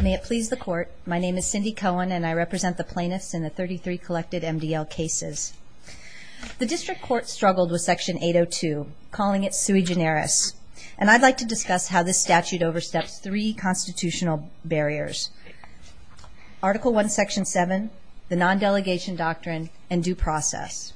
May it please the Court, my name is Cindy Cohen and I represent the plaintiffs in the 33 collected MDL cases. The District Court struggled with Section 802, calling it sui generis, and I'd like to discuss how this statute oversteps three constitutional barriers. Article 1, Section 7, the non-delegation doctrine, and due process.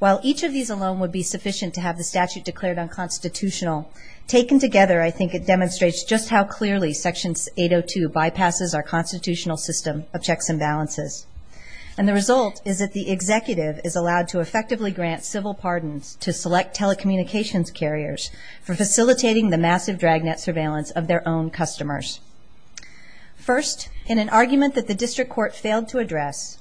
While each of these alone would be sufficient to have the statute declared unconstitutional, taken together I think it demonstrates just how clearly Section 802 bypasses our constitutional system of checks and balances. And the result is that the executive is allowed to effectively grant civil pardons to select telecommunications carriers for facilitating the massive dragnet surveillance of their own customers. First, in an argument that the District Court failed to address,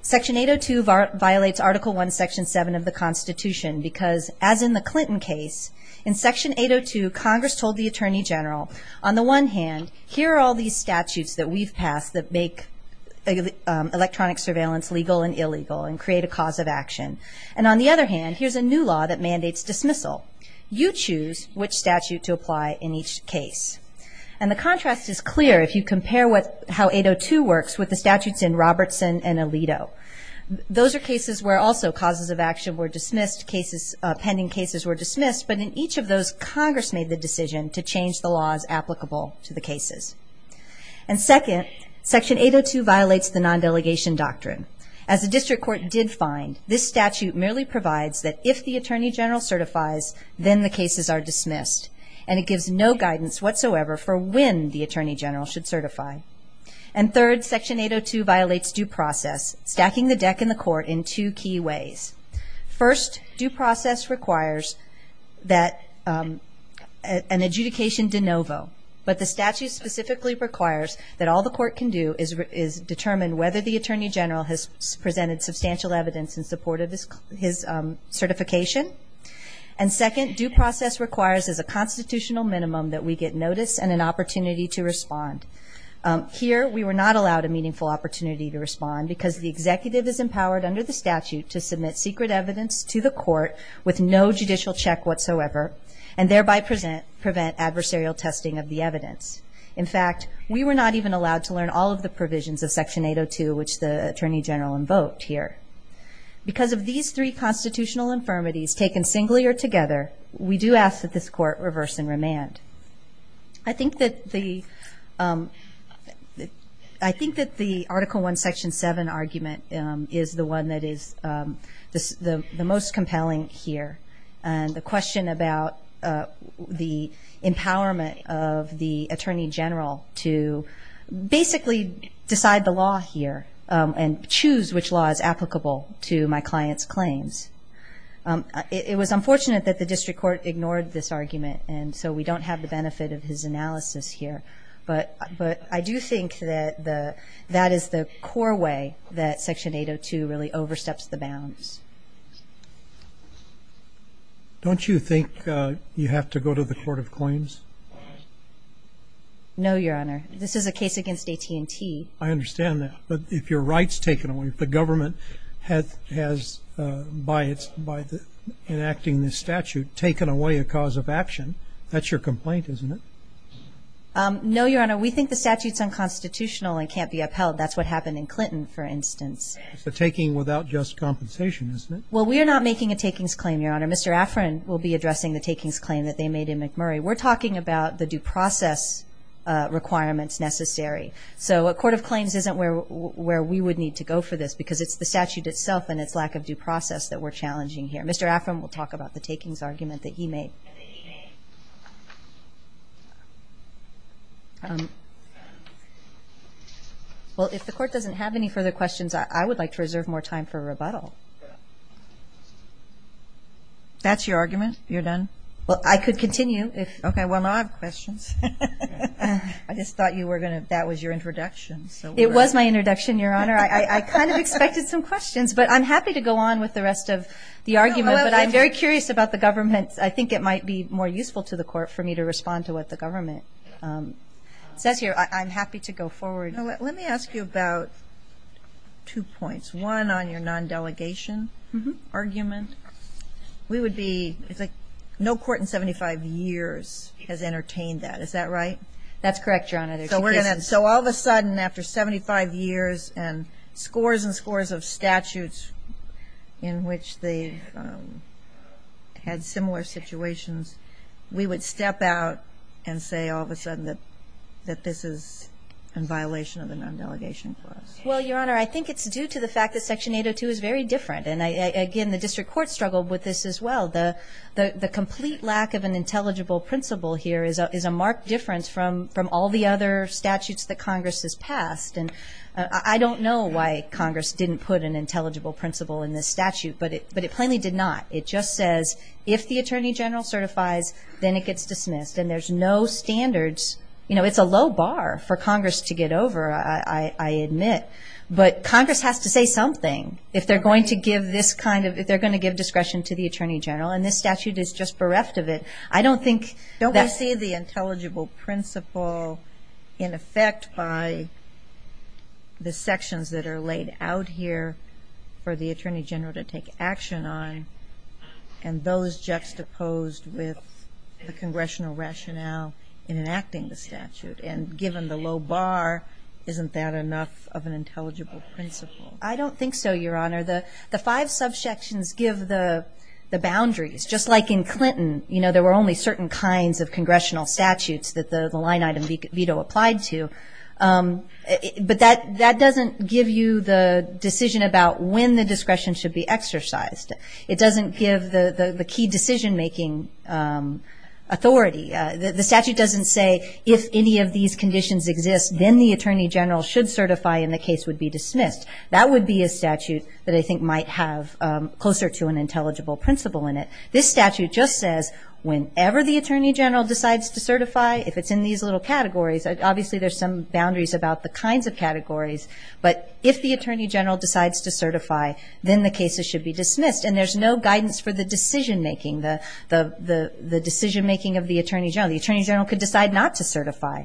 Section 802 violates Article 1, Section 7 of the Constitution because, as in the Clinton case, in Section 802 Congress told the Attorney General, on the one hand, here are all these statutes that we've passed that make electronic surveillance legal and illegal and create a cause of action. And on the other hand, here's a new law that mandates dismissal. You choose which statute to apply in each case. And the contrast is clear if you compare how 802 works with the statutes in Robertson and Alito. Those are cases where also causes of action were dismissed, pending cases were dismissed, but in each of those Congress made the decision to change the laws applicable to the cases. And second, Section 802 violates the non-delegation doctrine. As the District Court did find, this statute merely provides that if the Attorney General certifies, then the cases are dismissed. And it gives no guidance whatsoever for when the Attorney General should certify. And third, Section 802 violates due process, stacking the deck in the court in two key ways. First, due process requires that an adjudication de novo. But the statute specifically requires that all the court can do is determine whether the Attorney General has presented substantial evidence in support of his certification. And second, due process requires, as a constitutional minimum, that we get notice and an opportunity to respond. Here, we were not allowed a meaningful opportunity to respond because the executive is empowered under the statute to submit secret evidence to the court with no judicial check whatsoever, and thereby prevent adversarial testing of the evidence. In fact, we were not even allowed to learn all of the provisions of Section 802, which the Attorney General invoked here. Because of these three constitutional infirmities taken singly or together, we do ask that this court reverse and remand. I think that the Article I, Section 7 argument is the one that is the most compelling here. And the question about the empowerment of the Attorney General to basically decide the law here and choose which law is applicable to my client's claims. It was unfortunate that the district court ignored this argument, and so we don't have the benefit of his analysis here. But I do think that that is the core way that Section 802 really oversteps the bounds. Don't you think you have to go to the Court of Claims? No, Your Honor. This is a case against AT&T. I understand that. But if your right's taken away, if the government has, by enacting this statute, taken away a cause of action, that's your complaint, isn't it? No, Your Honor. We think the statute's unconstitutional and can't be upheld. That's what happened in Clinton, for instance. It's a taking without just compensation, isn't it? Well, we're not making a takings claim, Your Honor. Mr. Afrin will be addressing the takings claim that they made in McMurray. We're talking about the due process requirements necessary. So a Court of Claims isn't where we would need to go for this because it's the statute itself and its lack of due process that we're challenging here. Mr. Afrin will talk about the takings argument that he made. Well, if the Court doesn't have any further questions, I would like to reserve more time for rebuttal. That's your argument? You're done? Well, I could continue. Okay. Well, I have questions. I just thought that was your introduction. It was my introduction, Your Honor. I kind of expected some questions. But I'm happy to go on with the rest of the argument. But I'm very curious about the government. I think it might be more useful to the Court for me to respond to what the government says. I'm happy to go forward. Let me ask you about two points. One, on your non-delegation argument. We would be – it's like no court in 75 years has entertained that. Is that right? That's correct, Your Honor. So all of a sudden, after 75 years and scores and scores of statutes in which they had similar situations, we would step out and say all of a sudden that this is in violation of the non-delegation clause. Well, Your Honor, I think it's due to the fact that Section 802 is very different. And, again, the district court struggled with this as well. The complete lack of an intelligible principle here is a marked difference from all the other statutes that Congress has passed. And I don't know why Congress didn't put an intelligible principle in this statute, but it plainly did not. It just says if the Attorney General certifies, then it gets dismissed. And there's no standards. You know, it's a low bar for Congress to get over, I admit. But Congress has to say something. If they're going to give this kind of – if they're going to give discretion to the Attorney General, and this statute is just bereft of it, I don't think that's – Don't they see the intelligible principle in effect by the sections that are laid out here for the Attorney General to take action on and those juxtaposed with the congressional rationale in enacting the statute? And given the low bar, isn't that enough of an intelligible principle? I don't think so, Your Honor. The five subsections give the boundaries. Just like in Clinton, you know, there were only certain kinds of congressional statutes that the line-item veto applied to. But that doesn't give you the decision about when the discretion should be exercised. It doesn't give the key decision-making authority. The statute doesn't say if any of these conditions exist, then the Attorney General should certify and the case would be dismissed. That would be a statute that I think might have closer to an intelligible principle in it. This statute just says whenever the Attorney General decides to certify, if it's in these little categories, obviously there's some boundaries about the kinds of categories, but if the Attorney General decides to certify, then the cases should be dismissed. And there's no guidance for the decision-making, the decision-making of the Attorney General. The Attorney General could decide not to certify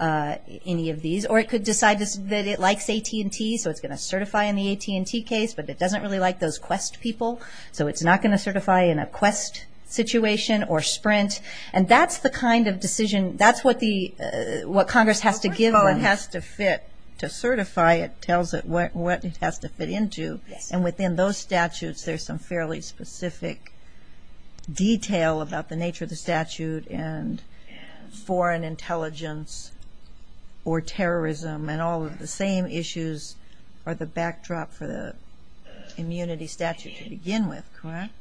any of these, or it could decide that it likes AT&T, so it's going to certify in the AT&T case, but it doesn't really like those Quest people, so it's not going to certify in a Quest situation or Sprint. And that's the kind of decision-that's what Congress has to give them. To certify, it tells it what it has to fit into. And within those statutes, there's some fairly specific detail about the nature of the statute and foreign intelligence or terrorism, and all of the same issues are the backdrop for the immunity statute to begin with, correct?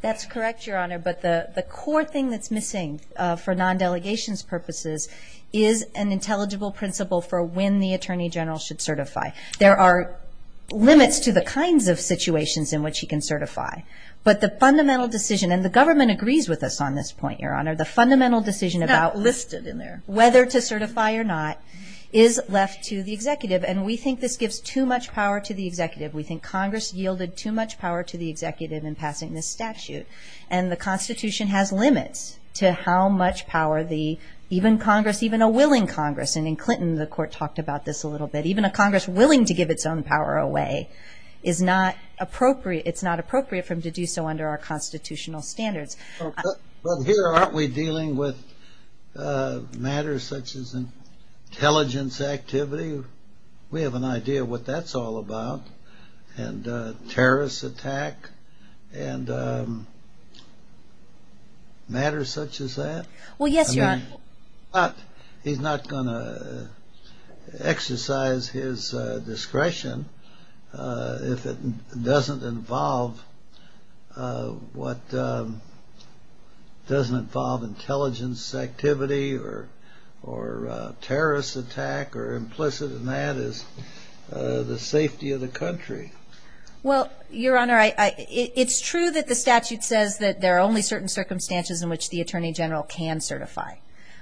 That's correct, Your Honor, but the core thing that's missing for non-delegations purposes is an intelligible principle for when the Attorney General should certify. There are limits to the kinds of situations in which he can certify, but the fundamental decision, and the government agrees with us on this point, Your Honor, the fundamental decision about whether to certify or not is left to the executive, and we think this gives too much power to the executive. We think Congress yielded too much power to the executive in passing this statute, and the Constitution has limits to how much power the-even Congress, even a willing Congress, and in Clinton, the Court talked about this a little bit. Even a Congress willing to give its own power away is not appropriate. It's not appropriate for them to do so under our constitutional standards. But here, aren't we dealing with matters such as intelligence activity? We have an idea what that's all about, and terrorist attack, and matters such as that. He's not going to exercise his discretion if it doesn't involve what doesn't involve intelligence activity or terrorist attack, or implicit in that is the safety of the country. Well, Your Honor, it's true that the statute says that there are only certain circumstances in which the Attorney General can certify.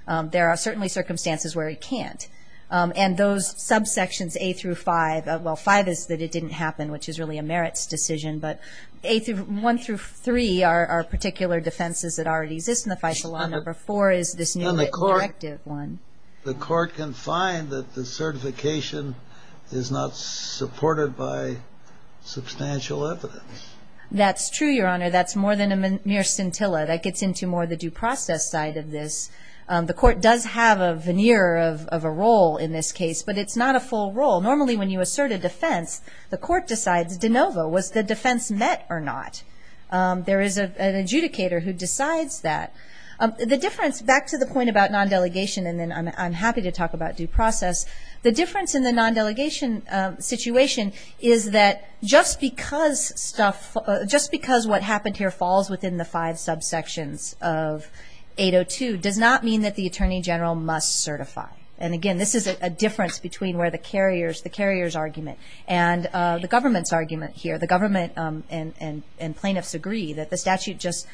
There are certainly circumstances where he can't. And those subsections, A through 5, well, 5 is that it didn't happen, which is really a merits decision, but 1 through 3 are particular defenses that already exist in the Fiscal Law. Number 4 is this new directive one. And the Court can find that the certification is not supported by substantial evidence. That's true, Your Honor. That's more than a mere scintilla. That gets into more the due process side of this. The Court does have a veneer of a role in this case, but it's not a full role. Normally, when you assert a defense, the Court decides de novo, was the defense met or not? There is an adjudicator who decides that. The difference, back to the point about non-delegation, and then I'm happy to talk about due process, the difference in the non-delegation situation is that just because stuff, just because what happened here falls within the five subsections of 802 does not mean that the Attorney General must certify. And, again, this is a difference between where the carrier's argument and the government's argument here. The government and plaintiffs agree that the statute just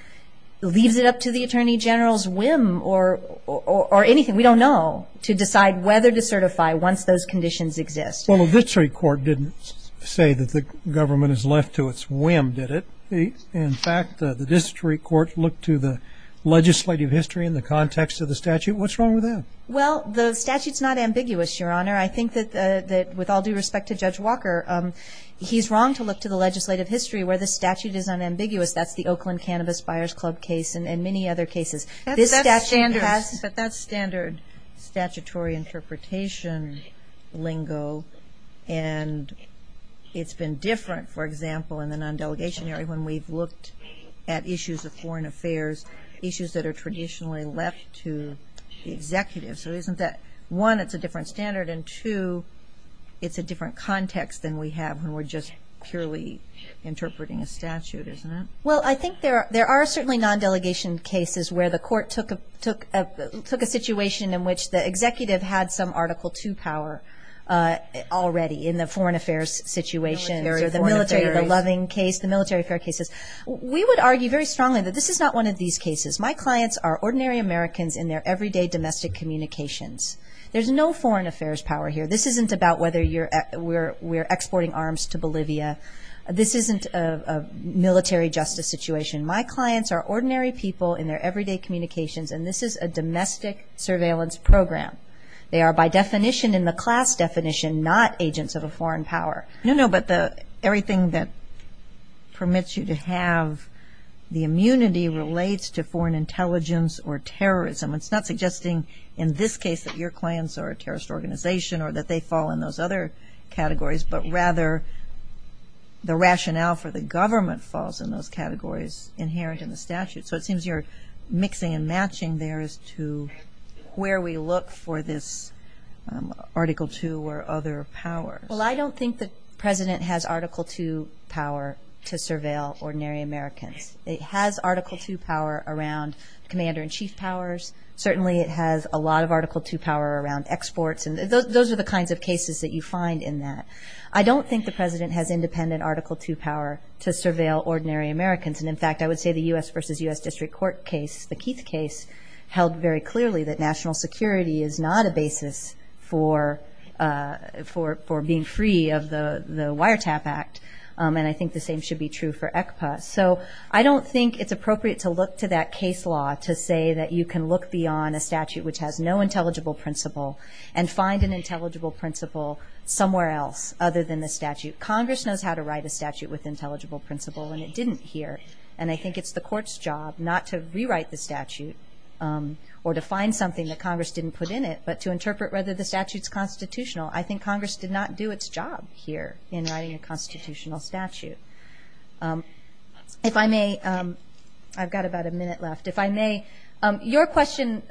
leaves it up to the Attorney General's whim or anything, we don't know, to decide whether to certify once those conditions exist. Well, the District Court didn't say that the government is left to its whim, did it? In fact, the District Court looked to the legislative history in the context of the statute. What's wrong with that? Well, the statute's not ambiguous, Your Honor. I think that with all due respect to Judge Walker, he's wrong to look to the legislative history where the statute is unambiguous. That's the Oakland Cannabis Buyers Club case and many other cases. But that's standard statutory interpretation lingo, and it's been different, for example, in the non-delegation area when we've looked at issues of foreign affairs, issues that are traditionally left to the executives. One, it's a different standard, and two, it's a different context than we have when we're just purely interpreting a statute, isn't it? Well, I think there are certainly non-delegation cases where the court took a situation in which the executive had some Article II power already in the foreign affairs situation, the military, the loving case, the military affair cases. We would argue very strongly that this is not one of these cases. My clients are ordinary Americans in their everyday domestic communications. There's no foreign affairs power here. This isn't about whether we're exporting arms to Bolivia. This isn't a military justice situation. My clients are ordinary people in their everyday communications, and this is a domestic surveillance program. They are, by definition, in the class definition, not agents of a foreign power. No, no, but everything that permits you to have the immunity relates to foreign intelligence or terrorism. It's not suggesting in this case that your clients are a terrorist organization or that they fall in those other categories, but rather the rationale for the government falls in those categories inherent in the statute. So it seems you're mixing and matching there as to where we look for this Article II or other power. Well, I don't think the president has Article II power to surveil ordinary Americans. It has Article II power around commander-in-chief powers. Certainly it has a lot of Article II power around exports. Those are the kinds of cases that you find in that. I don't think the president has independent Article II power to surveil ordinary Americans, and, in fact, I would say the U.S. v. U.S. District Court case, the Keith case, held very clearly that national security is not a basis for being free of the Wiretap Act, and I think the same should be true for ECPA. So I don't think it's appropriate to look to that case law to say that you can look beyond a statute which has no intelligible principle and find an intelligible principle somewhere else other than the statute. Congress knows how to write a statute with intelligible principle, and it didn't here, and I think it's the court's job not to rewrite the statute or to find something that Congress didn't put in it, but to interpret whether the statute's constitutional. I think Congress did not do its job here in writing a constitutional statute. If I may, I've got about a minute left. If I may, your question,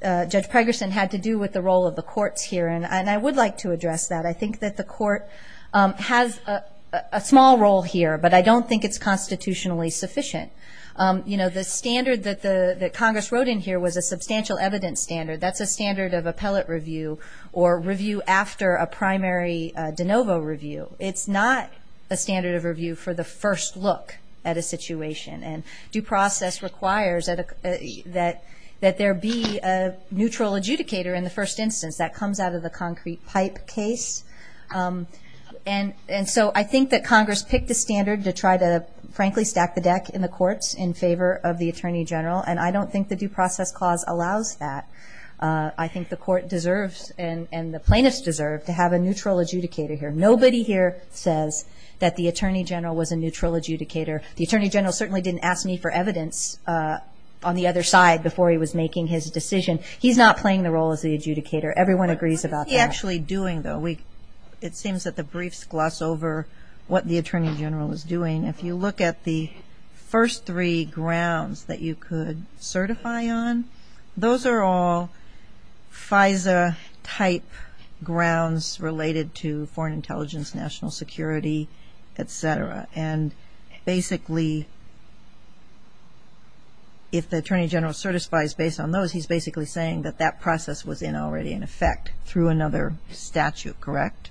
Judge Pregerson, had to do with the role of the courts here, and I would like to address that. I think that the court has a small role here, but I don't think it's constitutionally sufficient. You know, the standard that Congress wrote in here was a substantial evidence standard. That's a standard of appellate review or review after a primary de novo review. It's not a standard of review for the first look at a situation, and due process requires that there be a neutral adjudicator in the first instance. That comes out of the concrete pipe case, and so I think that Congress picked a standard to try to, frankly, stack the deck in the courts in favor of the attorney general, and I don't think the due process clause allows that. I think the court deserves and the plaintiffs deserve to have a neutral adjudicator here. Nobody here says that the attorney general was a neutral adjudicator. The attorney general certainly didn't ask me for evidence on the other side before he was making his decision. He's not playing the role of the adjudicator. Everyone agrees about that. He's actually doing, though. It seems that the briefs gloss over what the attorney general is doing. If you look at the first three grounds that you could certify on, those are all FISA-type grounds related to foreign intelligence, national security, et cetera, and basically if the attorney general certifies based on those, he's basically saying that that process was already in effect through another statute, correct?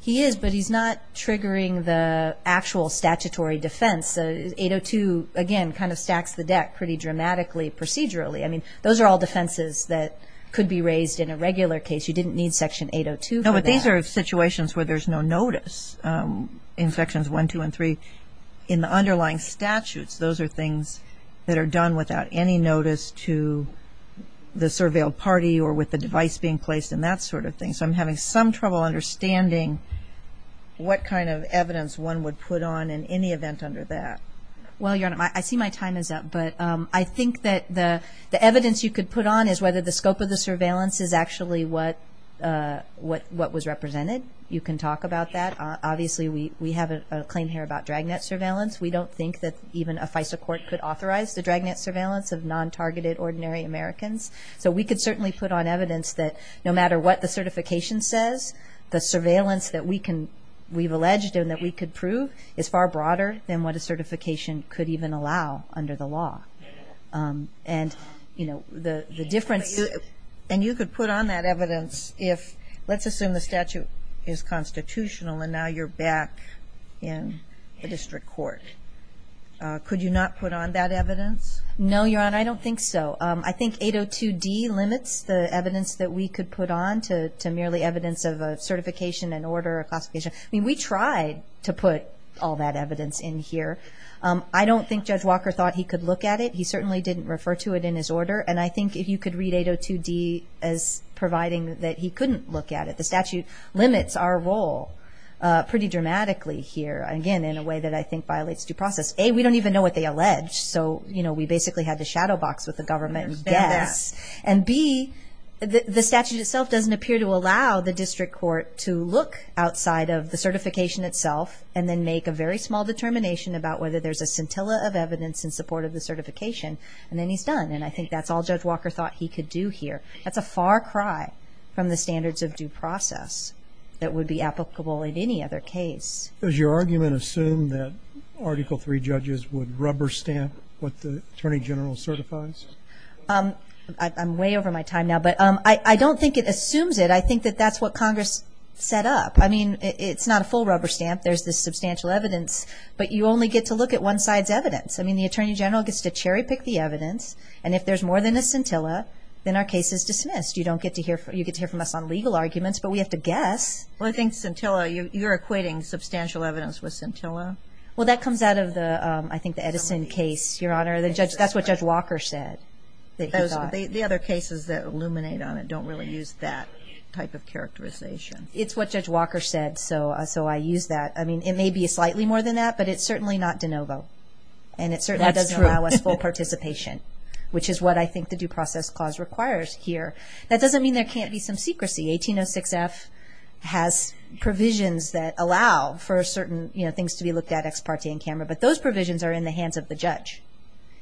He is, but he's not triggering the actual statutory defense. 802, again, kind of stacks the deck pretty dramatically procedurally. I mean, those are all defenses that could be raised in a regular case. You didn't need Section 802 for that. Those are situations where there's no notice in Sections 1, 2, and 3. In the underlying statutes, those are things that are done without any notice to the surveilled party or with the device being placed and that sort of thing. So I'm having some trouble understanding what kind of evidence one would put on in any event under that. Well, I see my time is up, but I think that the evidence you could put on is whether the scope of the surveillance is actually what was represented. You can talk about that. Obviously, we have a claim here about dragnet surveillance. We don't think that even a FISA court could authorize the dragnet surveillance of non-targeted ordinary Americans. So we could certainly put on evidence that no matter what the certification says, the surveillance that we've alleged and that we could prove is far broader than what a certification could even allow under the law. And you could put on that evidence if, let's assume the statute is constitutional and now you're back in a district court. Could you not put on that evidence? No, Your Honor, I don't think so. I think 802D limits the evidence that we could put on to merely evidence of a certification and order of classification. I mean, we tried to put all that evidence in here. I don't think Judge Walker thought he could look at it. He certainly didn't refer to it in his order. And I think if you could read 802D as providing that he couldn't look at it. The statute limits our role pretty dramatically here, again, in a way that I think violates due process. A, we don't even know what they allege. So, you know, we basically have the shadow box with the government. And B, the statute itself doesn't appear to allow the district court to look outside of the certification itself and then make a very small determination about whether there's a scintilla of evidence in support of the certification. And then he's done. And I think that's all Judge Walker thought he could do here. That's a far cry from the standards of due process that would be applicable in any other case. Does your argument assume that Article III judges would rubber stamp what the Attorney General certifies? I'm way over my time now. But I don't think it assumes it. I think that that's what Congress set up. I mean, it's not a full rubber stamp. There's the substantial evidence. But you only get to look at one side's evidence. I mean, the Attorney General gets to cherry pick the evidence. And if there's more than a scintilla, then our case is dismissed. You don't get to hear from us on legal arguments, but we have to guess. Well, I think scintilla, you're equating substantial evidence with scintilla. Well, that comes out of the, I think, the Edison case, Your Honor. That's what Judge Walker said that he thought. The other cases that illuminate on it don't really use that type of characterization. It's what Judge Walker said, so I use that. I mean, it may be slightly more than that, but it's certainly not de novo. And it certainly doesn't allow us full participation, which is what I think the Due Process Clause requires here. That doesn't mean there can't be some secrecy. The 1806 F has provisions that allow for certain things to be looked at ex parte in camera. But those provisions are in the hands of the judge.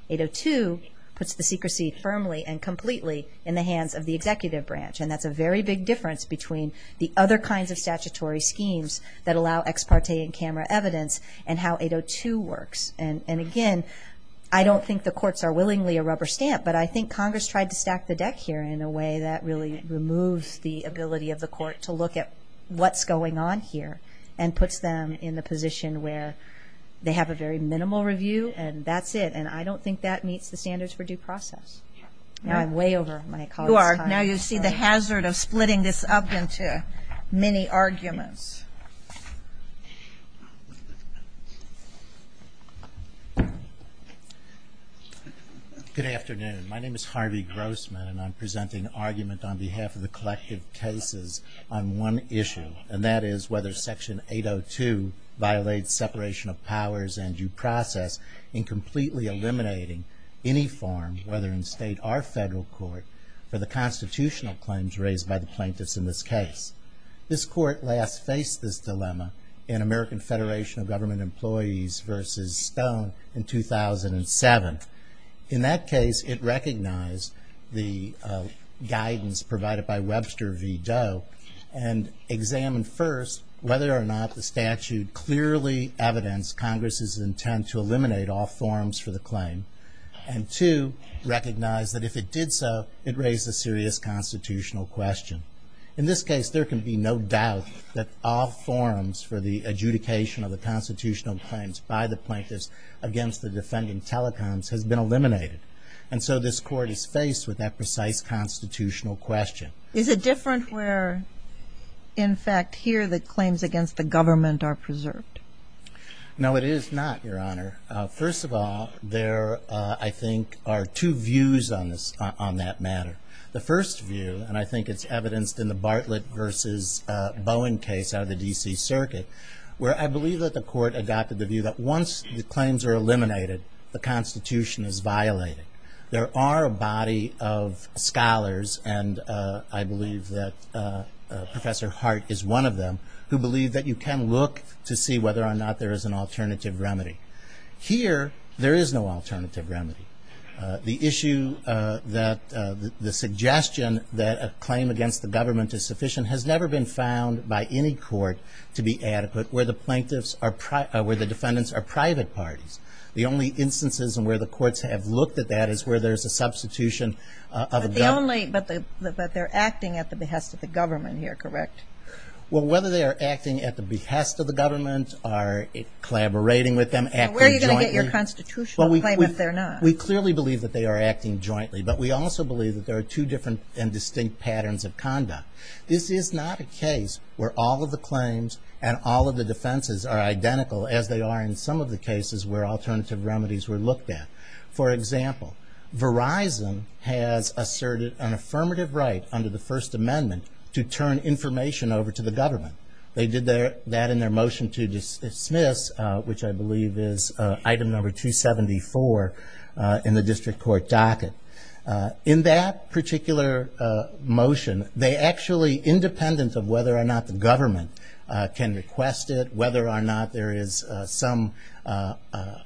802 puts the secrecy firmly and completely in the hands of the executive branch. And that's a very big difference between the other kinds of statutory schemes that allow ex parte in camera evidence and how 802 works. And, again, I don't think the courts are willingly a rubber stamp, but I think Congress tried to stack the deck here in a way that really removes the ability of the court to look at what's going on here and puts them in the position where they have a very minimal review and that's it. And I don't think that meets the standards for due process. I'm way over my colleague's time. You are. Now you see the hazard of splitting this up into many arguments. Good afternoon. My name is Harvey Grossman, and I'm presenting an argument on behalf of the collective cases on one issue, and that is whether Section 802 violates separation of powers and due process in completely eliminating any forms, whether in state or federal court, for the constitutional claims raised by the plaintiffs in this case. This court last faced this dilemma in American Federation of Government Employees versus Stone in 2007. In that case, it recognized the guidance provided by Webster v. Doe and examined first whether or not the statute clearly evidenced Congress's intent to eliminate all forms for the claim and, two, recognized that if it did so, it raised a serious constitutional question. In this case, there can be no doubt that all forms for the adjudication of the constitutional claims by the plaintiffs against the defendant telecons has been eliminated. And so this court is faced with that precise constitutional question. Is it different where, in fact, here the claims against the government are preserved? No, it is not, Your Honor. First of all, there, I think, are two views on that matter. The first view, and I think it's evidenced in the Bartlett v. Bowen case out of the D.C. Circuit, where I believe that the court adopted the view that once the claims are eliminated, the Constitution is violated. There are a body of scholars, and I believe that Professor Hart is one of them, who believe that you can look to see whether or not there is an alternative remedy. Here, there is no alternative remedy. The issue that the suggestion that a claim against the government is sufficient has never been found by any court to be adequate where the plaintiffs are, where the defendants are private parties. The only instances where the courts have looked at that is where there is a substitution of a government. But the only, but they're acting at the behest of the government here, correct? Well, whether they are acting at the behest of the government or collaborating with them, acting jointly. We clearly believe that they are acting jointly, but we also believe that there are two different and distinct patterns of conduct. This is not a case where all of the claims and all of the defenses are identical as they are in some of the cases where alternative remedies were looked at. For example, Verizon has asserted an affirmative right under the First Amendment to turn information over to the government. They did that in their motion to dismiss, which I believe is item number 274 in the district court docket. In that particular motion, they actually, independent of whether or not the government can request it, whether or not there is some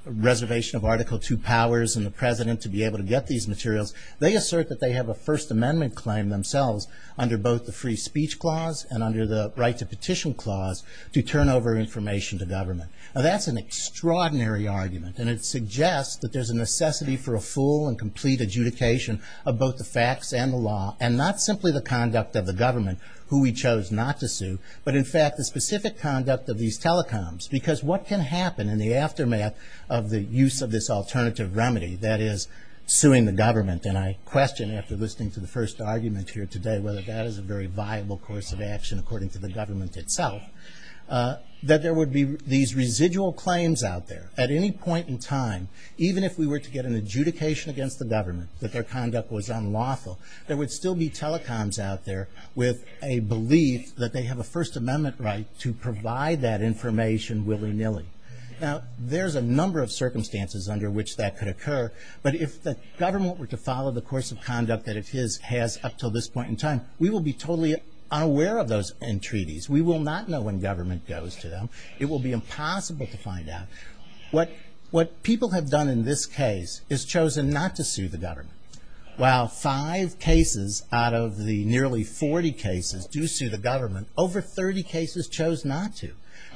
reservation of Article II powers in the President to be able to get these materials, they assert that they have a First Amendment claim themselves under both the Free Speech Clause and under the Right to Petition Clause to turn over information to government. Now, that's an extraordinary argument, and it suggests that there's a necessity for a full and complete adjudication of both the facts and the law, and not simply the conduct of the government, who we chose not to sue, but in fact, the specific conduct of these telecoms. Because what can happen in the aftermath of the use of this alternative remedy, that is, suing the government? And I question, after listening to the first argument here today, whether that is a very viable course of action according to the government itself, that there would be these residual claims out there at any point in time, even if we were to get an adjudication against the government that their conduct was unlawful, there would still be telecoms out there with a belief that they have a First Amendment right to provide that information willy-nilly. Now, there's a number of circumstances under which that could occur, but if the government were to follow the course of conduct that it has up to this point in time, we will be totally unaware of those entreaties. We will not know when government goes to them. It will be impossible to find out. What people have done in this case is chosen not to sue the government. While five cases out of the nearly 40 cases do sue the government, over 30 cases chose not to.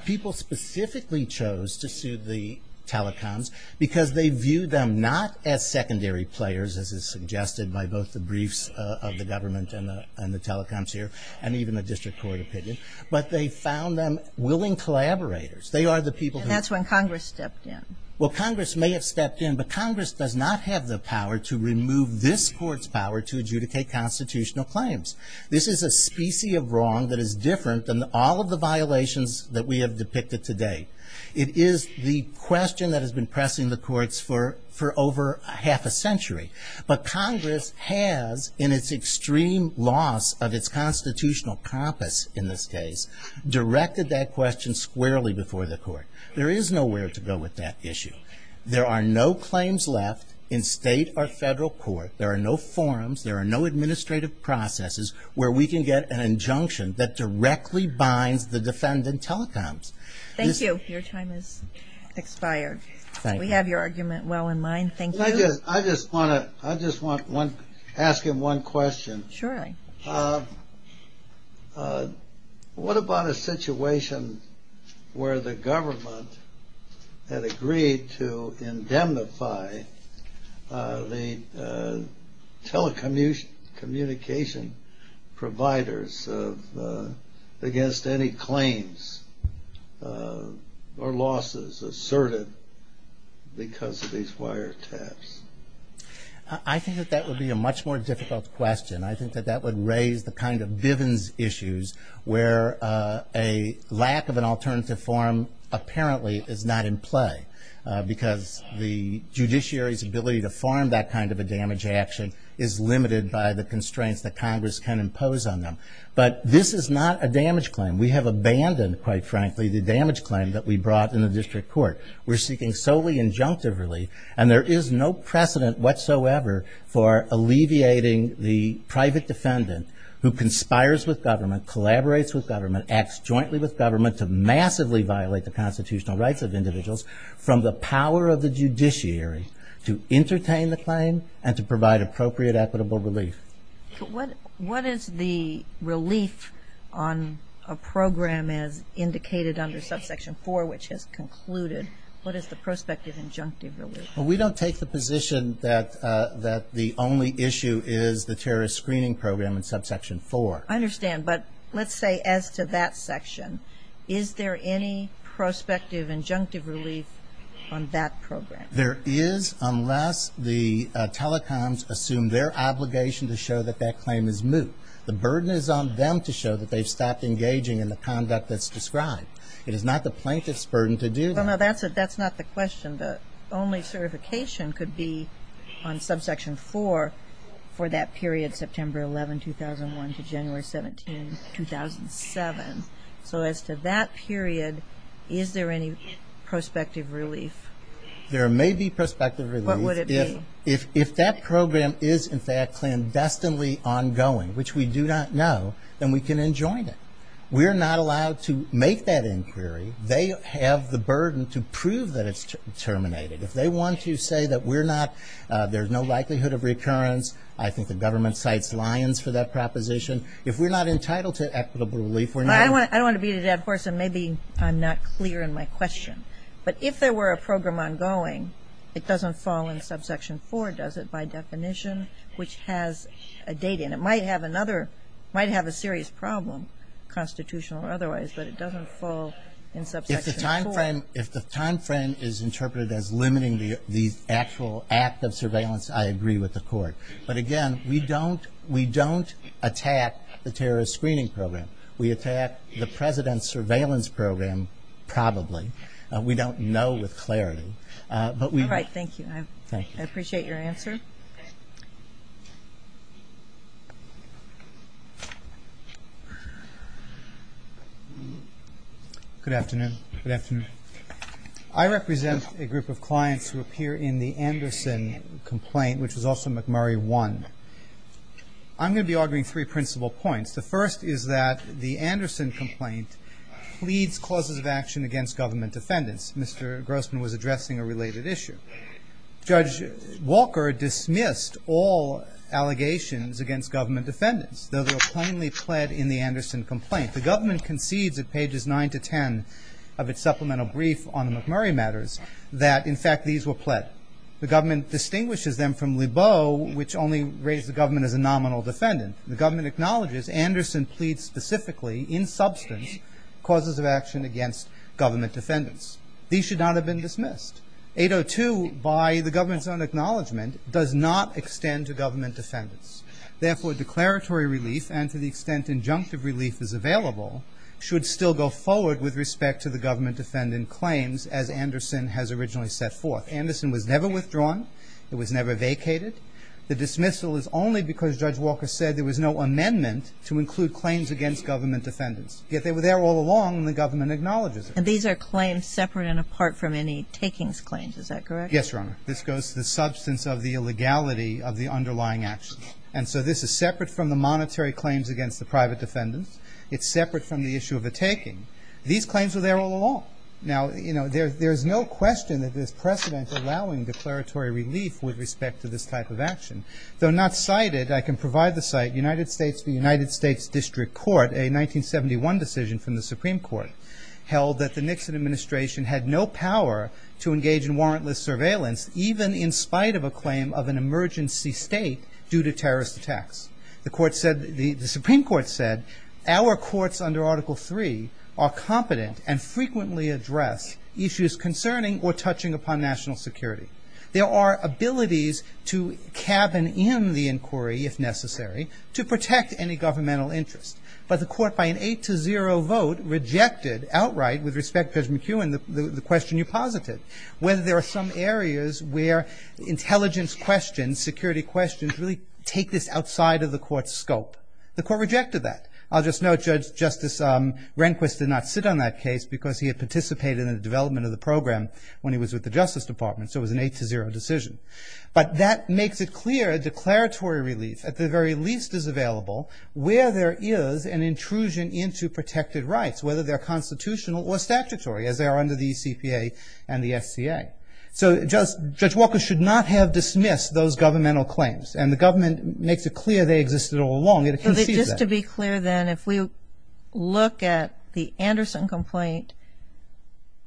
People specifically chose to sue the telecoms because they viewed them not as secondary players, as is suggested by both the briefs of the government and the telecoms here, and even the district court opinion, but they found them willing collaborators. They are the people who... That's when Congress stepped in. Well, Congress may have stepped in, but Congress does not have the power to remove this court's power to adjudicate constitutional claims. This is a specie of wrong that is different than all of the violations that we have depicted to date. It is the question that has been pressing the courts for over half a century, but Congress has, in its extreme loss of its constitutional profits in this case, directed that question squarely before the court. There is nowhere to go with that issue. There are no claims left in state or federal court. There are no forms. There are no administrative processes where we can get an injunction that directly binds the defendant telecoms. Thank you. Your time has expired. We have your argument well in mind. Thank you. I just want to ask him one question. Sure. What about a situation where the government had agreed to indemnify the telecommunication providers against any claims or losses asserted because of these wiretaps? I think that that would be a much more difficult question. I think that that would raise the kind of Bivens issues where a lack of an alternative form apparently is not in play because the judiciary's ability to form that kind of a damage action is limited by the constraints that Congress can impose on them. But this is not a damage claim. We have abandoned, quite frankly, the damage claim that we brought in the district court. We're seeking solely injunctive relief, and there is no precedent whatsoever for alleviating the private defendant who conspires with government, collaborates with government, acts jointly with government to massively violate the constitutional rights of individuals from the power of the judiciary to entertain the claim and to provide appropriate equitable relief. But what is the relief on a program as indicated under subsection 4, which has concluded? What is the prospective injunctive relief? Well, we don't take the position that the only issue is the terrorist screening program in subsection 4. I understand. But let's say as to that section, is there any prospective injunctive relief on that program? There is, unless the telecoms assume their obligation to show that that claim is moot. The burden is on them to show that they stopped engaging in the conduct that's described. It is not the plaintiff's burden to do that. Well, no, that's not the question. The only certification could be on subsection 4 for that period, September 11, 2001, to January 17, 2007. So as to that period, is there any prospective relief? There may be prospective relief. What would it be? If that program is, in fact, clandestinely ongoing, which we do not know, then we can enjoin it. We are not allowed to make that inquiry. They have the burden to prove that it's terminated. If they want to say that there's no likelihood of recurrence, I think the government cites Lyons for that proposition. If we're not entitled to equitable relief, we're not. I don't want to beat a dead horse, and maybe I'm not clear in my question. But if there were a program ongoing, it doesn't fall in subsection 4, does it, by definition, which has a date in it? It might have a serious problem, constitutional or otherwise, but it doesn't fall in subsection 4. If the timeframe is interpreted as limiting the actual act of surveillance, I agree with the court. But, again, we don't attack the terrorist screening program. We attack the president's surveillance program, probably. We don't know with clarity. All right, thank you. I appreciate your answer. Good afternoon. Good afternoon. I represent a group of clients who appear in the Anderson complaint, which is also McMurray 1. I'm going to be arguing three principal points. The first is that the Anderson complaint pleads causes of action against government defendants. Mr. Grossman was addressing a related issue. Judge Walker dismissed all allegations against government defendants. Those were plainly pled in the Anderson complaint. The government conceived at pages 9 to 10 of its supplemental brief on the McMurray matters that, in fact, these were pled. The government distinguishes them from Lebeau, which only raised the government as a nominal defendant. The government acknowledges Anderson pleads specifically, in substance, causes of action against government defendants. These should not have been dismissed. 802, by the government's own acknowledgement, does not extend to government defendants. Therefore, declaratory relief, and to the extent injunctive relief is available, should still go forward with respect to the government defendant claims, as Anderson has originally set forth. Anderson was never withdrawn. It was never vacated. The dismissal is only because Judge Walker said there was no amendment to include claims against government defendants. Yet they were there all along, and the government acknowledges them. And these are claims separate and apart from any takings claims. Is that correct? Yes, Your Honor. This goes to the substance of the illegality of the underlying actions. And so this is separate from the monetary claims against the private defendants. It's separate from the issue of a taking. These claims were there all along. Now, you know, there's no question that there's precedent allowing declaratory relief with respect to this type of action. Though not cited, I can provide the site. United States, the United States District Court, a 1971 decision from the Supreme Court, held that the Nixon administration had no power to engage in warrantless surveillance, even in spite of a claim of an emergency state due to terrorist attacks. The Supreme Court said, our courts under Article III are competent and frequently address issues concerning or touching upon national security. There are abilities to cabin in the inquiry, if necessary, to protect any governmental interest. But the court, by an 8-0 vote, rejected outright, with respect to President McEwen, the question you posited, whether there are some areas where intelligence questions, security questions, really take this outside of the court's scope. The court rejected that. I'll just note, Judge Justice Rehnquist did not sit on that case because he had participated in the development of the program when he was with the Justice Department. So it was an 8-0 decision. But that makes it clear declaratory relief, at the very least, is available where there is an intrusion into protected rights, whether they're constitutional or statutory, as they are under the ECCA and the SCA. So Judge Walker should not have dismissed those governmental claims. And the government makes it clear they existed all along. Just to be clear then, if we look at the Anderson complaint,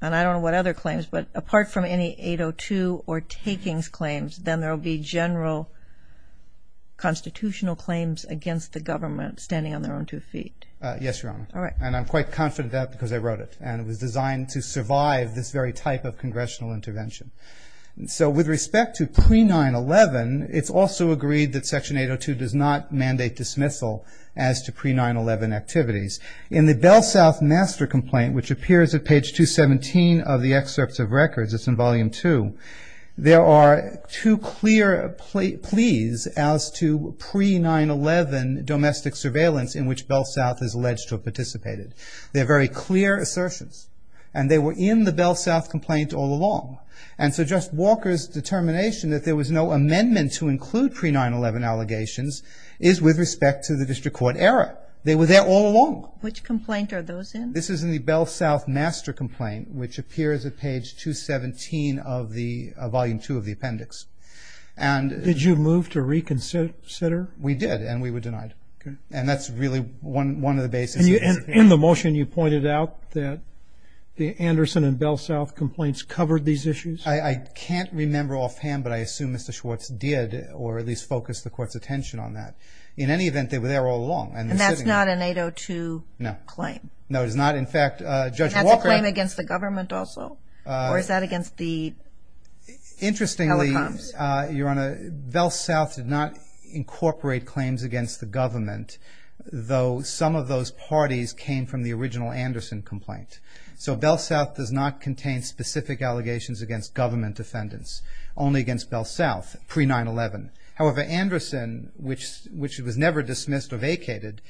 and I don't know what other claims, but apart from any 8-0-2 or takings claims, then there will be general constitutional claims against the government standing on their own two feet. Yes, Your Honor. All right. And I'm quite confident of that because I wrote it. And it was designed to survive this very type of congressional intervention. So with respect to pre-9-11, it's also agreed that Section 8-0-2 does not mandate dismissal as to pre-9-11 activities. In the Bell South master complaint, which appears at page 217 of the excerpts of records, it's in Volume 2, there are two clear pleas as to pre-9-11 domestic surveillance in which Bell South is alleged to have participated. They're very clear assertions. And they were in the Bell South complaint all along. And so Judge Walker's determination that there was no amendment to include pre-9-11 allegations is with respect to the district court error. They were there all along. Which complaint are those in? This is in the Bell South master complaint, which appears at page 217 of Volume 2 of the appendix. Did you move to reconsider? We did. And we were denied. And that's really one of the basic reasons. In the motion, you pointed out that the Anderson and Bell South complaints covered these issues? I can't remember offhand, but I assume Mr. Schwartz did or at least focused the court's attention on that. In any event, they were there all along. And that's not an 8-0-2 claim? No. No, it is not. In fact, Judge Walker – Is that a claim against the government also? Or is that against the telecoms? Interestingly, Your Honor, Bell South did not incorporate claims against the government, though some of those parties came from the original Anderson complaint. So Bell South does not contain specific allegations against government defendants, only against Bell South pre-9-11. However, Anderson, which was never dismissed or vacated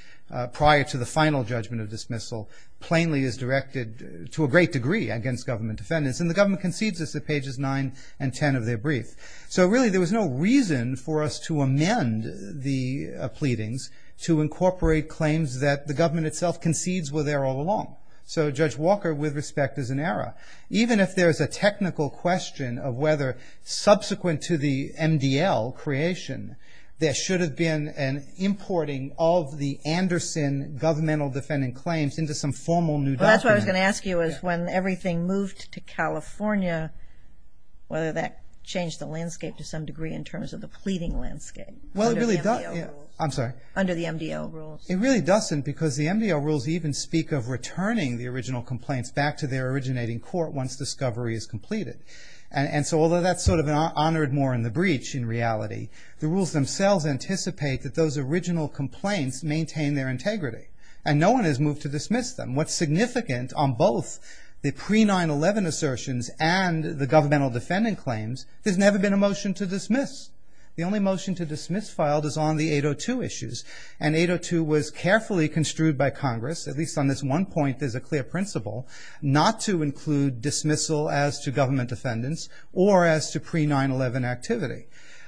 prior to the final judgment of dismissal, plainly is directed to a great degree against government defendants. And the government concedes this at pages 9 and 10 of their brief. So really there was no reason for us to amend the pleadings to incorporate claims that the government itself concedes were there all along. So Judge Walker, with respect, is in error. Even if there's a technical question of whether subsequent to the MDL creation, there should have been an importing of the Anderson governmental defendant claims into some formal new document. Well, that's what I was going to ask you was when everything moved to California, whether that changed the landscape to some degree in terms of the pleading landscape. Well, it really doesn't. I'm sorry? Under the MDL rules. It really doesn't because the MDL rules even speak of returning the original complaints back to their originating court once discovery is completed. And so although that's sort of honored more in the breach in reality, the rules themselves anticipate that those original complaints maintain their integrity. And no one has moved to dismiss them. What's significant on both the pre-9-11 assertions and the governmental defendant claims, there's never been a motion to dismiss. The only motion to dismiss filed is on the 802 issues. And 802 was carefully construed by Congress, at least on this one point, as a clear principle not to include dismissal as to government defendants or as to pre-9-11 activity.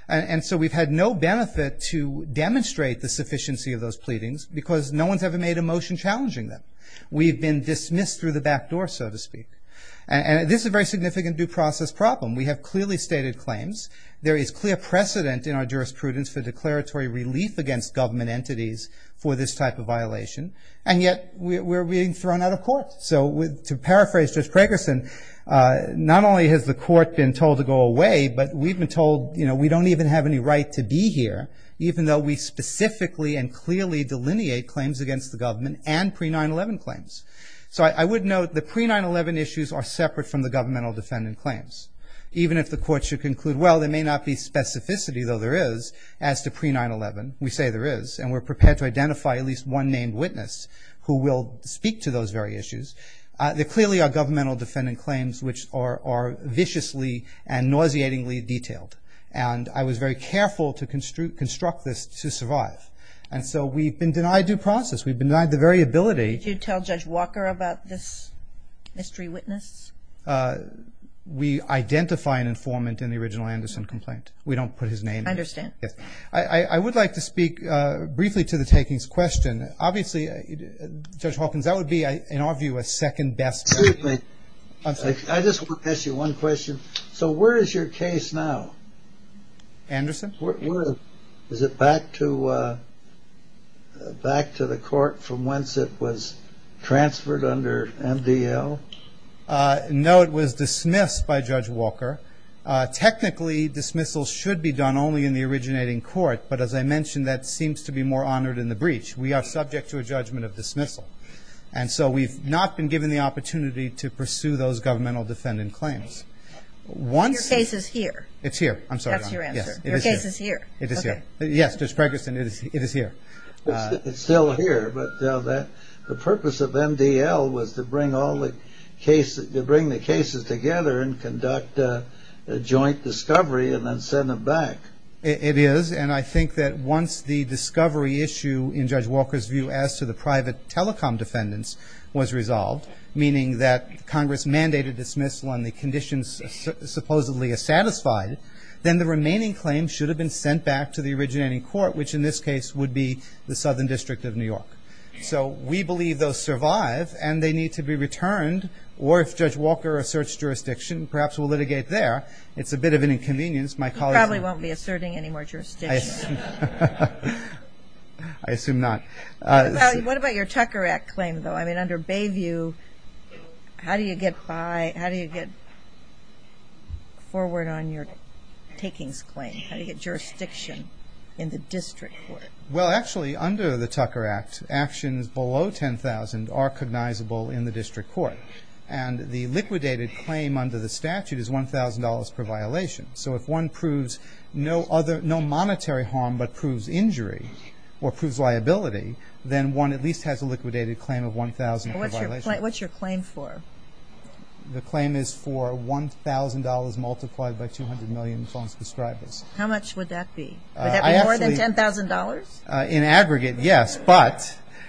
And so we've had no benefit to demonstrate the sufficiency of those pleadings because no one's ever made a motion challenging them. We've been dismissed through the back door, so to speak. And this is a very significant due process problem. We have clearly stated claims. There is clear precedent in our jurisprudence for declaratory relief against government entities for this type of violation. And yet we're being thrown out of court. So to paraphrase Judge Gregerson, not only has the court been told to go away, but we've been told, you know, we don't even have any right to be here, even though we specifically and clearly delineate claims against the government and pre-9-11 claims. So I would note the pre-9-11 issues are separate from the governmental defendant claims. Even if the court should conclude, well, there may not be specificity, though there is, as to pre-9-11. We say there is. And we're prepared to identify at least one named witness who will speak to those very issues. There clearly are governmental defendant claims which are viciously and nauseatingly detailed. And I was very careful to construct this to survive. And so we've been denied due process. We've been denied the very ability. Did you tell Judge Walker about this mystery witness? We identify an informant in the original Anderson complaint. We don't put his name. I understand. I would like to speak briefly to the takings question. Obviously, Judge Hawkins, that would be, in our view, a second best. Excuse me. I just want to ask you one question. So where is your case now? Anderson? Is it back to the court from whence it was transferred under MDL? No, it was dismissed by Judge Walker. Technically, dismissals should be done only in the originating court. But as I mentioned, that seems to be more honored in the breach. We are subject to a judgment of dismissal. And so we've not been given the opportunity to pursue those governmental defendant claims. Your case is here. It's here. That's your answer. Your case is here. It is here. Yes, Judge Ferguson, it is here. It's still here, but the purpose of MDL was to bring all the cases together and conduct a joint discovery and then send it back. It is. And I think that once the discovery issue, in Judge Walker's view, as to the private telecom defendants was resolved, meaning that Congress mandated dismissal and the conditions supposedly are satisfied, then the remaining claims should have been sent back to the originating court, which in this case would be the Southern District of New York. So we believe those survive, and they need to be returned. Or if Judge Walker asserts jurisdiction, perhaps we'll litigate there. It's a bit of an inconvenience. He probably won't be asserting any more jurisdiction. I assume not. What about your Tucker Act claim, though? I mean, under Bayview, how do you get forward on your takings claim? How do you get jurisdiction in the district court? Well, actually, under the Tucker Act, actions below $10,000 are cognizable in the district court. And the liquidated claim under the statute is $1,000 per violation. So if one proves no monetary harm but proves injury or proves liability, then one at least has a liquidated claim of $1,000 per violation. What's your claim for? The claim is for $1,000 multiplied by $200 million as long as it's described. How much would that be? Would that be more than $10,000? In aggregate, yes.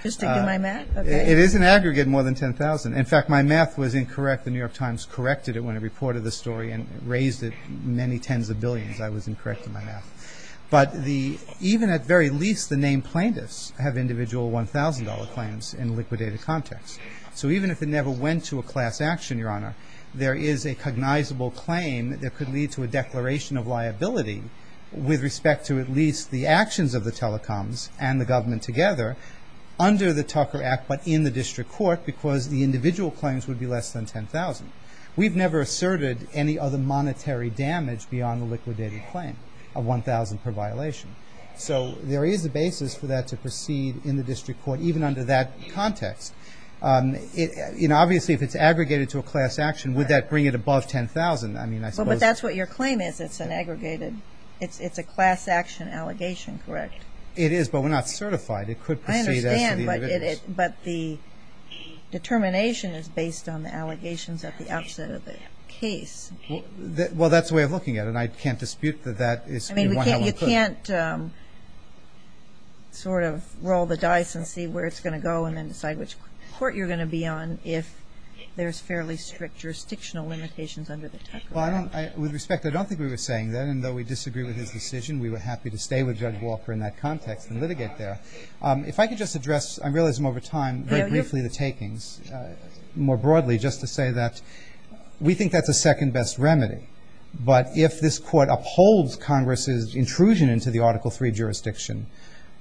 Just to do my math? It is in aggregate more than $10,000. In fact, my math was incorrect. The New York Times corrected it when it reported the story and raised it many tens of billions. I was incorrect in my math. But even at the very least, the named plaintiffs have individual $1,000 claims in liquidated context. So even if it never went to a class action, Your Honor, there is a cognizable claim that could lead to a declaration of liability with respect to at least the actions of the telecoms and the government together under the Tucker Act but in the district court because the individual claims would be less than $10,000. We've never asserted any other monetary damage beyond the liquidated claim of $1,000 per violation. So there is a basis for that to proceed in the district court even under that context. Obviously, if it's aggregated to a class action, would that bring it above $10,000? But that's what your claim is. It's an aggregated. It's a class action allegation, correct? It is, but we're not certified. It could proceed after the individual. But the determination is based on the allegations at the outset of the case. Well, that's the way I'm looking at it, and I can't dispute that that is the $1,000 claim. I mean, you can't sort of roll the dice and see where it's going to go and then decide which court you're going to be on if there's fairly strict jurisdictional limitations under the Tucker Act. With respect, I don't think we were saying that, and though we disagree with his decision, we were happy to stay with Judge Wofford in that context and litigate there. If I could just address, I realize I'm over time, very briefly the takings, more broadly, just to say that we think that's the second best remedy. But if this court upholds Congress's intrusion into the Article III jurisdiction,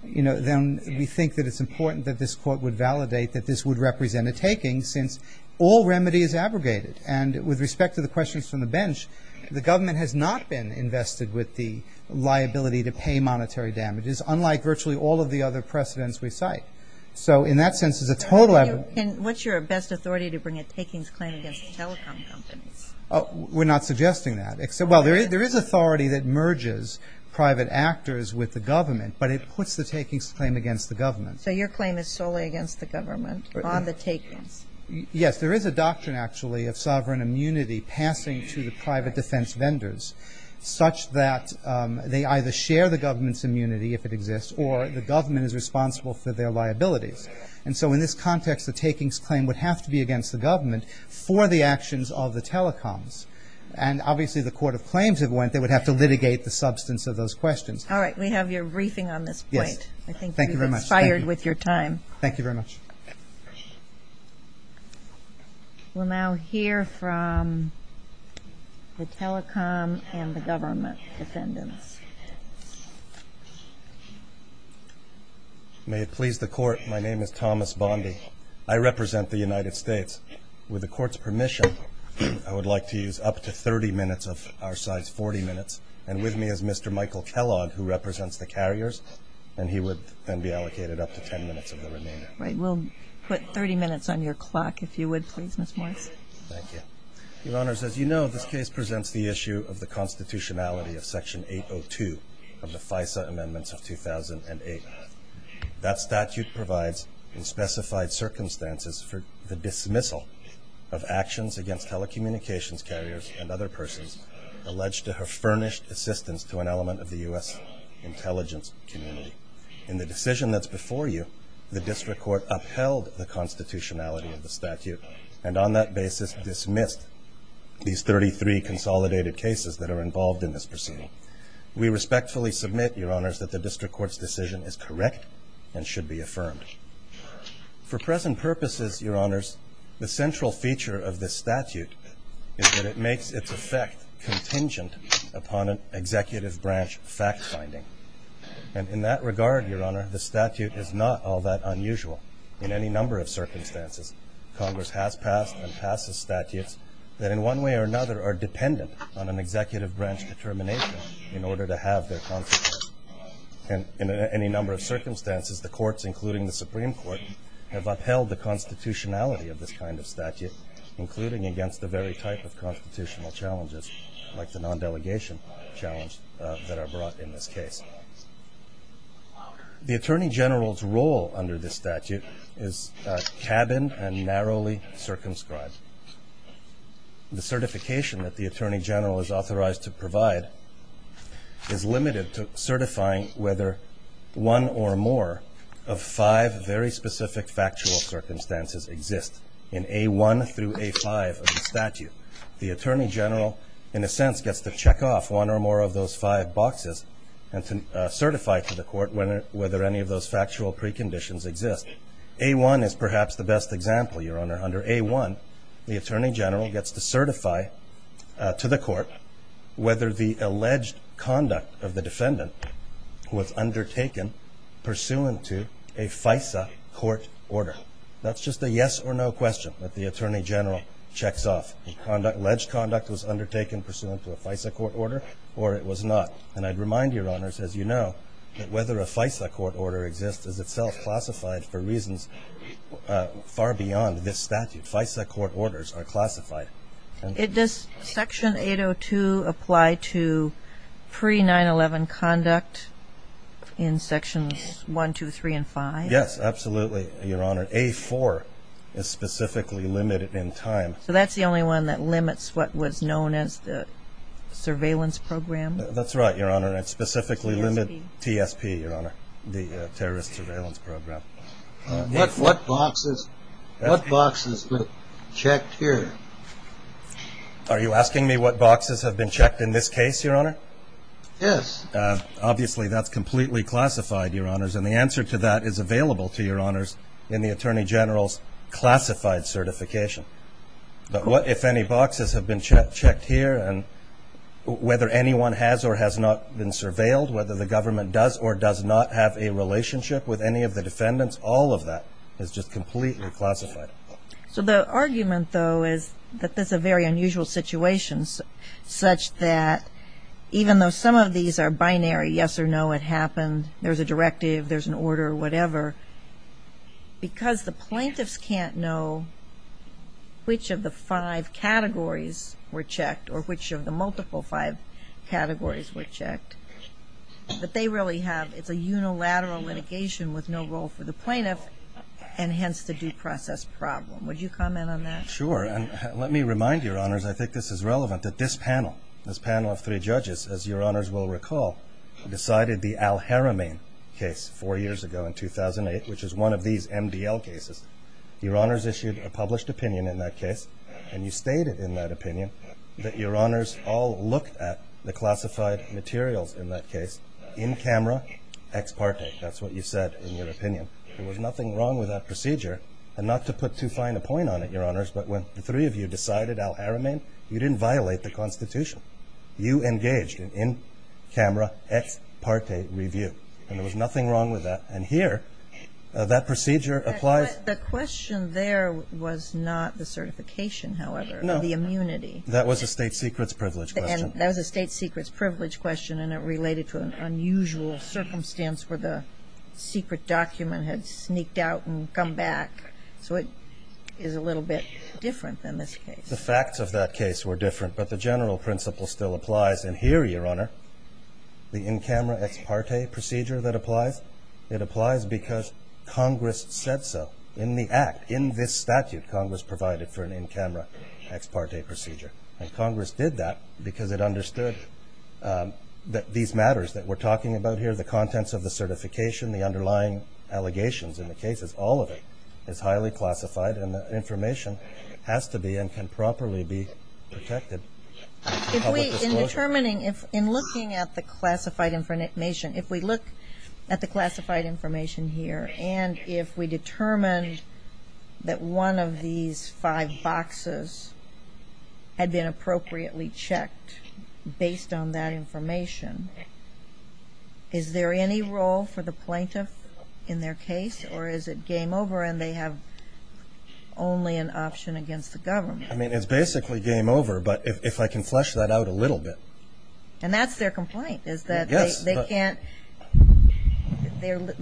then we think that it's important that this court would validate that this would represent a taking since all remedy is aggregated. And with respect to the questions from the bench, the government has not been invested with the liability to pay monetary damages, unlike virtually all of the other precedents we cite. So in that sense, there's a total of... And what's your best authority to bring a takings claim against a telecom company? We're not suggesting that. Well, there is authority that merges private actors with the government, but it puts the takings claim against the government. So your claim is solely against the government on the takings? Yes, there is a doctrine, actually, of sovereign immunity passing to the private defense vendors such that they either share the government's immunity, if it exists, or the government is responsible for their liability. And so in this context, the takings claim would have to be against the government for the actions of the telecoms. And obviously, the court of claims would have to litigate the substance of those questions. All right, we have your briefing on this point. Yes, thank you very much. I think you've been fired with your time. Thank you very much. We'll now hear from the telecom and the government defendants. May it please the court, my name is Thomas Bondi. I represent the United States. With the court's permission, I would like to use up to 30 minutes of our size, 40 minutes, and with me is Mr. Michael Kellogg, who represents the carriers, and he would then be allocated up to 10 minutes of the remaining time. All right, we'll put 30 minutes on your clock, if you would, please, Ms. Bondi. Thank you. Your Honors, as you know, this case presents the issue of the constitutionality of Section 802 of the FISA Amendments of 2008. That statute provides in specified circumstances for the dismissal of actions against telecommunications carriers and other persons alleged to have furnished assistance to an element of the U.S. intelligence community. In the decision that's before you, the district court upheld the constitutionality of the statute and on that basis dismissed these 33 consolidated cases that are involved in this proceeding. We respectfully submit, Your Honors, that the district court's decision is correct and should be affirmed. For present purposes, Your Honors, the central feature of this statute is that it makes its effect contingent upon an executive branch fact-finding, and in that regard, Your Honor, the statute is not all that unusual. In any number of circumstances, Congress has passed and passes statutes that in one way or another are dependent on an executive branch determination in order to have their consequences. In any number of circumstances, the courts, including the Supreme Court, have upheld the constitutionality of this kind of statute, including against the very type of constitutional challenges, like the non-delegation challenges that are brought in this case. The Attorney General's role under this statute is cabined and narrowly circumscribed. The certification that the Attorney General is authorized to provide is limited to certifying whether one or more of five very specific factual circumstances exist The Attorney General, in a sense, gets to check off one or more of those five boxes and to certify to the court whether any of those factual preconditions exist. A-1 is perhaps the best example, Your Honor. Under A-1, the Attorney General gets to certify to the court whether the alleged conduct of the defendant was undertaken pursuant to a FISA court order. That's just a yes or no question that the Attorney General checks off. Alleged conduct was undertaken pursuant to a FISA court order or it was not. And I'd remind Your Honors, as you know, that whether a FISA court order exists is itself classified for reasons far beyond this statute. FISA court orders are classified. Did this Section 802 apply to pre-911 conduct in Sections 1, 2, 3, and 5? Yes, absolutely, Your Honor. A-4 is specifically limited in time. So that's the only one that limits what was known as the surveillance program? That's right, Your Honor. It specifically limits TSP, Your Honor, the terrorist surveillance program. What boxes were checked here? Are you asking me what boxes have been checked in this case, Your Honor? Yes. Obviously, that's completely classified, Your Honors. And the answer to that is available to Your Honors in the Attorney General's classified certification. But what if any boxes have been checked here and whether anyone has or has not been surveilled, whether the government does or does not have a relationship with any of the defendants, all of that is just completely classified. So the argument, though, is that this is a very unusual situation such that even though some of these are binary, yes or no, it happened, there's a directive, there's an order, whatever, because the plaintiffs can't know which of the five categories were checked or which of the multiple five categories were checked. What they really have is a unilateral litigation with no role for the plaintiff and hence the due process problem. Would you comment on that? Sure. And let me remind Your Honors, I think this is relevant, that this panel, this panel of three judges, as Your Honors will recall, decided the Al Haramain case four years ago in 2008, which is one of these MDL cases. Your Honors issued a published opinion in that case and you stated in that opinion that Your Honors all looked at the classified materials in that case, in camera, ex parte. That's what you said in your opinion. There was nothing wrong with that procedure. And not to put too fine a point on it, Your Honors, but when the three of you decided Al Haramain, you didn't violate the Constitution. You engaged in camera, ex parte review. And there was nothing wrong with that. And here, that procedure applies. The question there was not the certification, however, but the immunity. That was a state secrets privilege question. That was a state secrets privilege question and it related to an unusual circumstance where the secret document had sneaked out and come back. So it is a little bit different than this case. The facts of that case were different, but the general principle still applies. And here, Your Honor, the in camera, ex parte procedure that applies, it applies because Congress said so. In the Act, in this statute, Congress provided for an in camera, ex parte procedure. And Congress did that because it understood that these matters that we're talking about here, the contents of the certification, the underlying allegations in the cases, all of it is highly classified and the information has to be and can properly be protected. In determining, in looking at the classified information, if we look at the classified information here and if we determine that one of these five boxes had been appropriately checked based on that information, is there any role for the plaintiff in their case? Or is it game over and they have only an option against the government? I mean, it's basically game over, but if I can flesh that out a little bit. And that's their complaint, is that they can't,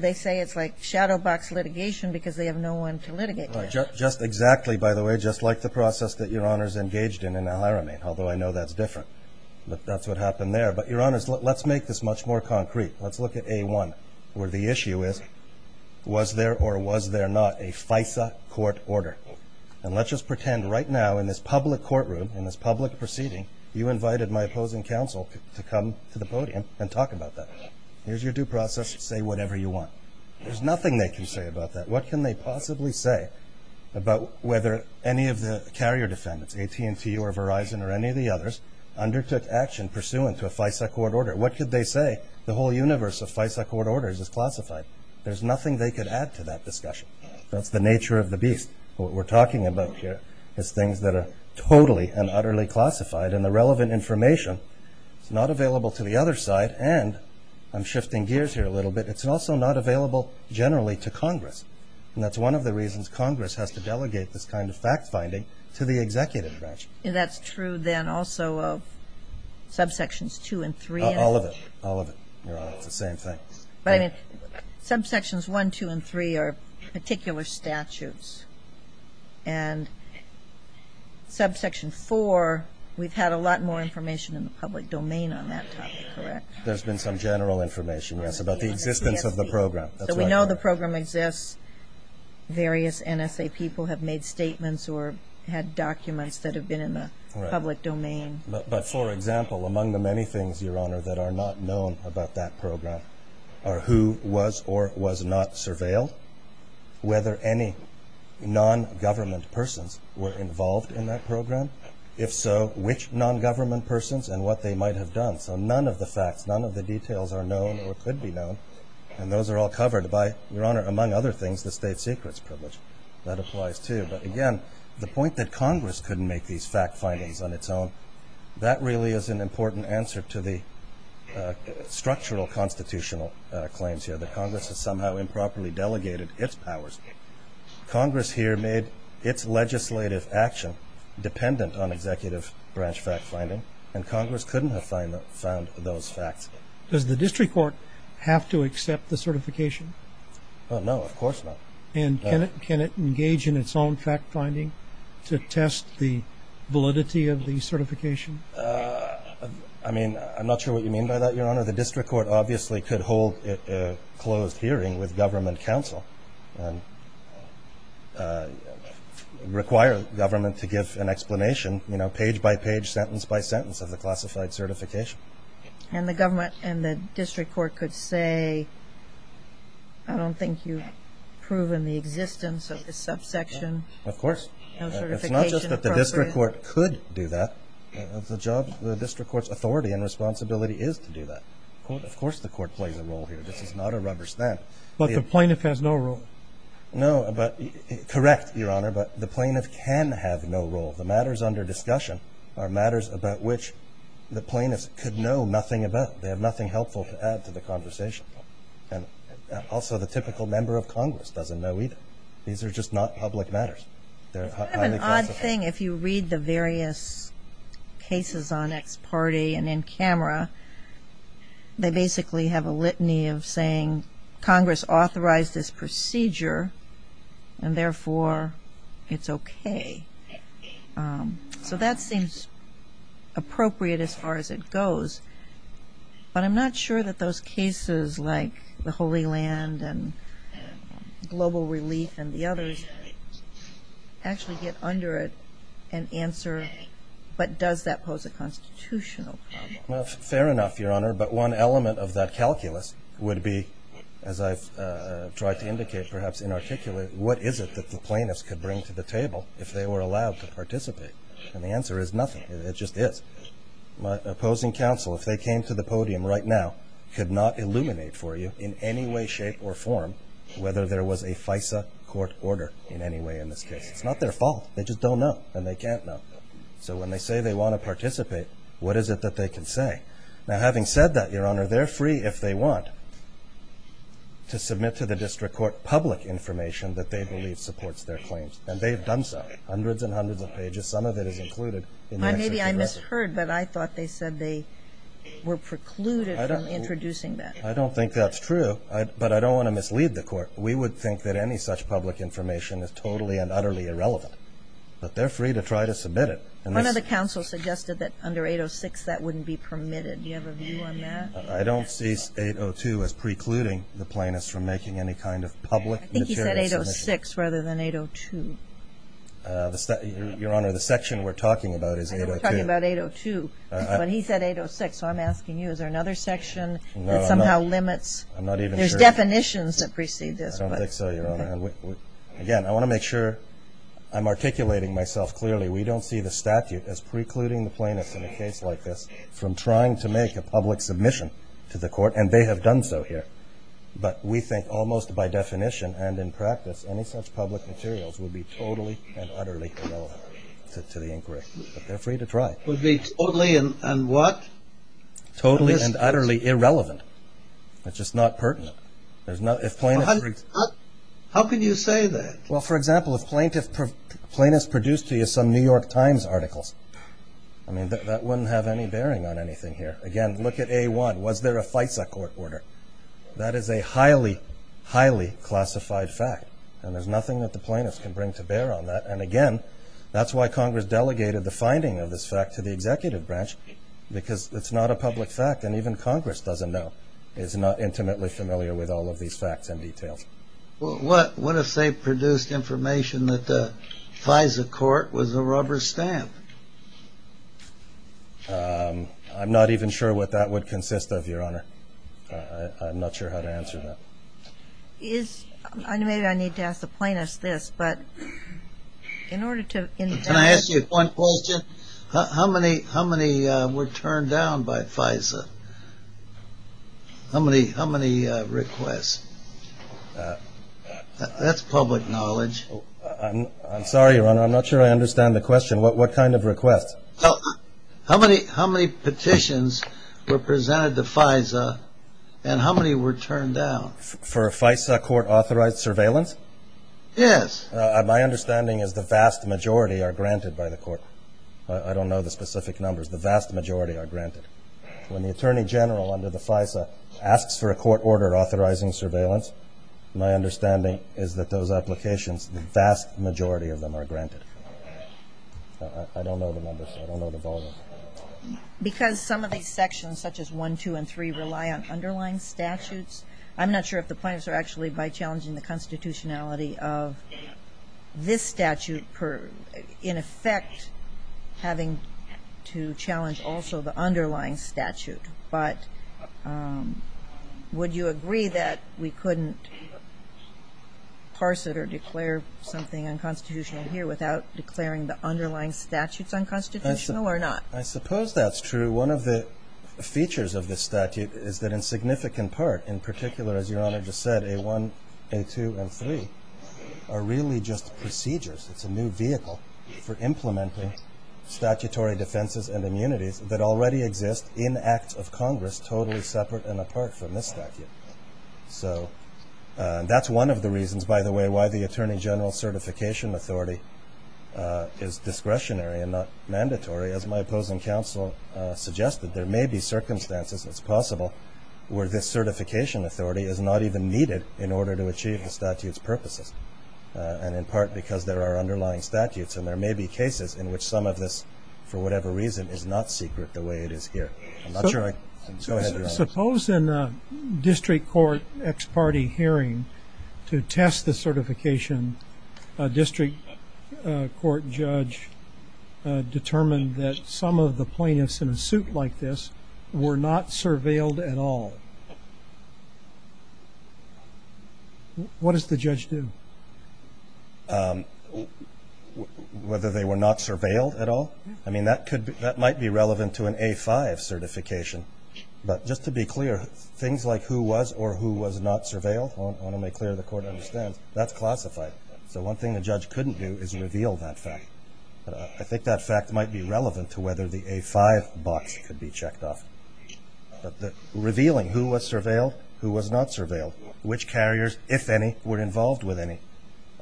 they say it's like shadow box litigation because they have no one to litigate this. Just exactly, by the way, just like the process that Your Honor's engaged in in the hiring, although I know that's different. That's what happened there. But Your Honor, let's make this much more concrete. Let's look at A1 where the issue is, was there or was there not a FISA court order? And let's just pretend right now in this public courtroom, in this public proceeding, you invited my opposing counsel to come to the podium and talk about that. Here's your due process. Say whatever you want. There's nothing they can say about that. What can they possibly say about whether any of the carrier defendants, AT&T or Verizon or any of the others, undertook action pursuant to a FISA court order? What could they say? The whole universe of FISA court orders is classified. There's nothing they could add to that discussion. That's the nature of the beast. What we're talking about here is things that are totally and utterly classified, and the relevant information is not available to the other side. And I'm shifting gears here a little bit. It's also not available generally to Congress. And that's one of the reasons Congress has to delegate this kind of fact-finding to the executive branch. That's true then also of subsections 2 and 3. All of it. All of it. They're all the same thing. But subsections 1, 2, and 3 are particular statutes. And subsection 4, we've had a lot more information in the public domain on that subject, correct? There's been some general information, yes, about the existence of the program. So we know the program exists. Various NSA people have made statements or had documents that have been in the public domain. But, for example, among the many things, Your Honor, that are not known about that program are who was or was not surveilled, whether any non-government persons were involved in that program. If so, which non-government persons and what they might have done. So none of the facts, none of the details are known or should be known. And those are all covered by, Your Honor, among other things, the state secrets privilege. That applies to you. But, again, the point that Congress couldn't make these fact-findings on its own, that really is an important answer to the structural constitutional claims here. That Congress has somehow improperly delegated its powers. Congress here made its legislative action dependent on executive branch fact-finding. And Congress couldn't have found those facts. Does the district court have to accept the certification? No, of course not. And can it engage in its own fact-finding to test the validity of the certification? I mean, I'm not sure what you mean by that, Your Honor. The district court obviously could hold a closed hearing with government counsel and require government to give an explanation, you know, page by page, sentence by sentence, of the classified certification. And the district court could say, I don't think you've proven the existence of this subsection. Of course. It's not just that the district court could do that. The district court's authority and responsibility is to do that. Of course the court plays a role here. This is not a rubber stamp. But the plaintiff has no role. No, but, correct, Your Honor, but the plaintiff can have no role. The matters under discussion are matters about which the plaintiff could know nothing about. They have nothing helpful to add to the conversation. And also the typical member of Congress doesn't know either. These are just not public matters. I have an odd thing. If you read the various cases on X party and in camera, they basically have a litany of saying Congress authorized this procedure and therefore it's okay. So that seems appropriate as far as it goes. But I'm not sure that those cases like the Holy Land and global relief and the others actually get under it but does that pose a constitutional question? Well, fair enough, Your Honor, but one element of that calculus would be, as I tried to indicate perhaps inarticulate, what is it that the plaintiffs could bring to the table if they were allowed to participate? And the answer is nothing. It just is. My opposing counsel, if they came to the podium right now, could not illuminate for you in any way, shape, or form whether there was a FISA court order in any way in this case. It's not their fault. They just don't know and they can't know. So when they say they want to participate, what is it that they can say? Now having said that, Your Honor, they're free if they want to submit to the district court public information that they believe supports their claims and they've done so, hundreds and hundreds of pages. Some of it is included. Maybe I misheard, but I thought they said they were precluded from introducing that. I don't think that's true, but I don't want to mislead the court. We would think that any such public information is totally and utterly irrelevant, but they're free to try to submit it. One of the counsels suggested that under 806 that wouldn't be permitted. Do you have a view on that? I don't see 802 as precluding the plaintiffs from making any kind of public material submission. I think he said 806 rather than 802. Your Honor, the section we're talking about is 802. We're talking about 802, but he said 806. I'm asking you, is there another section that somehow limits? There's definitions that precede this. I don't think so, Your Honor. Again, I want to make sure I'm articulating myself clearly. We don't see the statute as precluding the plaintiffs in a case like this from trying to make a public submission to the court, and they have done so here. But we think almost by definition and in practice, any such public materials would be totally and utterly irrelevant to the inquiry. But they're free to try. Would be totally and what? Totally and utterly irrelevant. It's just not pertinent. How can you say that? Well, for example, if plaintiffs produce to you some New York Times articles, that wouldn't have any bearing on anything here. Again, look at A1. Was there a FISA court order? That is a highly, highly classified fact, and there's nothing that the plaintiffs can bring to bear on that. And again, that's why Congress delegated the finding of this fact to the executive branch because it's not a public fact, and even Congress doesn't know. It's not intimately familiar with all of these facts and details. What if they produced information that the FISA court was a rubber stamp? I'm not even sure what that would consist of, Your Honor. I'm not sure how to answer that. Maybe I need to ask the plaintiffs this, but in order to Can I ask you one question? How many were turned down by FISA? How many requests? That's public knowledge. I'm sorry, Your Honor. I'm not sure I understand the question. What kind of requests? How many petitions were presented to FISA and how many were turned down? For FISA court authorized surveillance? Yes. My understanding is the vast majority are granted by the court. I don't know the specific numbers. The vast majority are granted. When the attorney general under the FISA asks for a court order authorizing surveillance, my understanding is that those applications, the vast majority of them are granted. I don't know the numbers. I don't know the ballgame. Because some of these sections, such as 1, 2, and 3, rely on underlying statutes. I'm not sure if the plaintiffs are actually by challenging the constitutionality of this statute in effect having to challenge also the underlying statute. But would you agree that we couldn't parse it or declare something unconstitutional here without declaring the underlying statutes unconstitutional or not? I suppose that's true. One of the features of this statute is that in significant part, in particular, as Your Honor just said, A1, A2, and A3 are really just procedures. It's a new vehicle for implementing statutory defenses and immunities that already exist in acts of Congress totally separate and apart from this statute. So that's one of the reasons, by the way, why the attorney general certification authority is discretionary and not mandatory. As my opposing counsel suggested, there may be circumstances, if it's possible, where this certification authority is not even needed in order to achieve the statute's purposes. And in part because there are underlying statutes. And there may be cases in which some of this, for whatever reason, is not secret the way it is here. Suppose in a district court ex parte hearing to test the certification, a district court judge determined that some of the plaintiffs in a suit like this were not surveilled at all. What does the judge do? Whether they were not surveilled at all? I mean, that might be relevant to an A5 certification. But just to be clear, things like who was or who was not surveilled, I want to make clear the court understands, that's classified. The one thing the judge couldn't do is reveal that fact. I think that fact might be relevant to whether the A5 box could be checked off. But revealing who was surveilled, who was not surveilled, which carriers, if any, were involved with any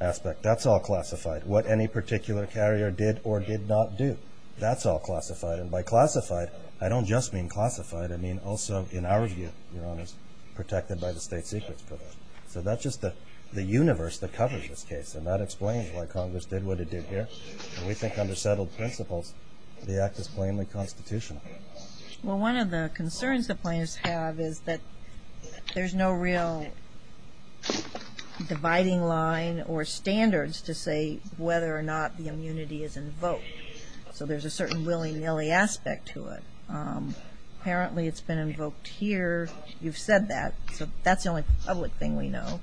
aspect, that's all classified. What any particular carrier did or did not do, that's all classified. And by classified, I don't just mean classified. I mean also, in our view, you know, it was protected by the state's issues for that. So that's just the universe that covers this case. And that explains why Congress did what it did here. And we think under settled principles, the act is plainly constitutional. Well, one of the concerns the plaintiffs have is that there's no real dividing line or standards to say whether or not the immunity is invoked. So there's a certain willy-nilly aspect to it. Apparently, it's been invoked here. You've said that. That's the only public thing we know.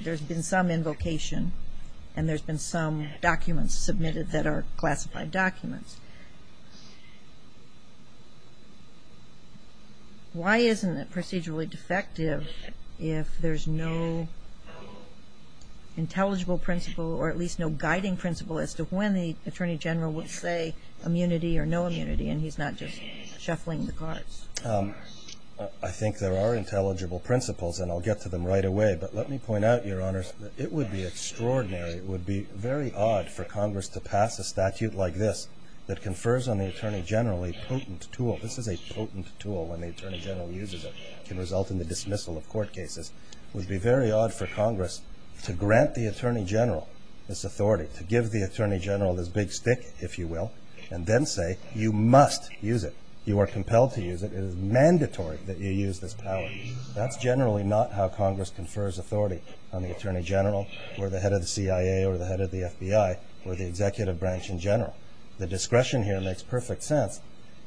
There's been some invocation, and there's been some documents submitted that are classified documents. Why isn't it procedurally defective if there's no intelligible principle or at least no guiding principle as to when the attorney general would say immunity or no immunity, and he's not just shuffling the cards? I think there are intelligible principles, and I'll get to them right away. But let me point out, Your Honors, that it would be extraordinary, it would be very odd for Congress to pass a statute like this that confers on the attorney general a potent tool. This is a potent tool when the attorney general uses it. It can result in the dismissal of court cases. It would be very odd for Congress to grant the attorney general this authority, to give the attorney general this big stick, if you will, and then say, you must use it. You are compelled to use it. It is mandatory that you use this power. That's generally not how Congress confers authority on the attorney general or the head of the CIA or the head of the FBI or the executive branch in general. The discretion here makes perfect sense.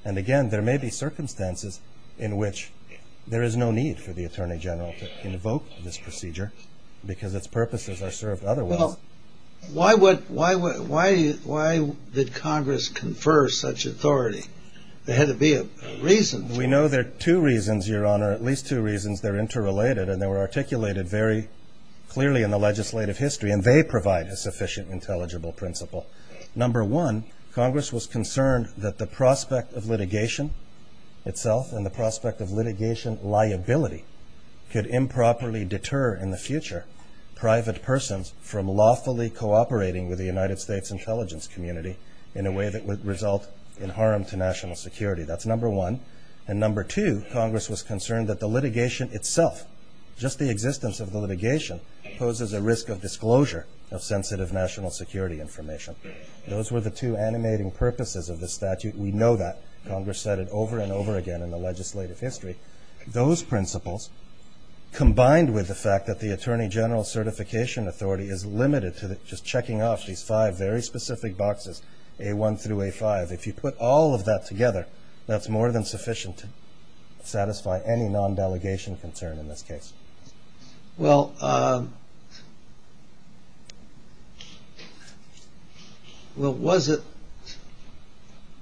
And again, there may be circumstances in which there is no need for the attorney general to invoke this procedure because its purposes are served otherwise. Well, why did Congress confer such authority? There had to be a reason. We know there are two reasons, Your Honor, at least two reasons. They're interrelated and they were articulated very clearly in the legislative history, and they provide a sufficient intelligible principle. Number one, Congress was concerned that the prospect of litigation itself and the prospect of litigation liability could improperly deter in the future private persons from lawfully cooperating with the United States intelligence community in a way that would result in harm to national security. That's number one. And number two, Congress was concerned that the litigation itself, just the existence of litigation, poses a risk of disclosure of sensitive national security information. Those were the two animating purposes of the statute. We know that. Congress said it over and over again in the legislative history. Those principles, combined with the fact that the attorney general certification authority is limited to just checking off these five very specific boxes, A1 through A5, if you put all of that together, that's more than sufficient to satisfy any non-delegation concern in this case. Well, was it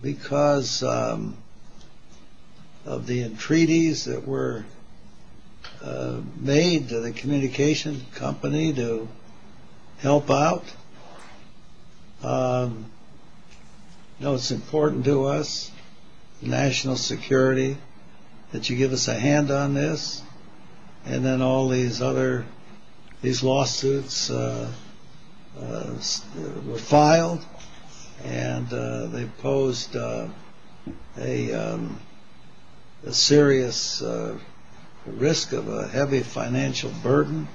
because of the entreaties that were made to the communications company to help out? No, it's important to us, national security, that you give us a hand on this. And then all these lawsuits were filed and they posed a serious risk of a heavy financial burden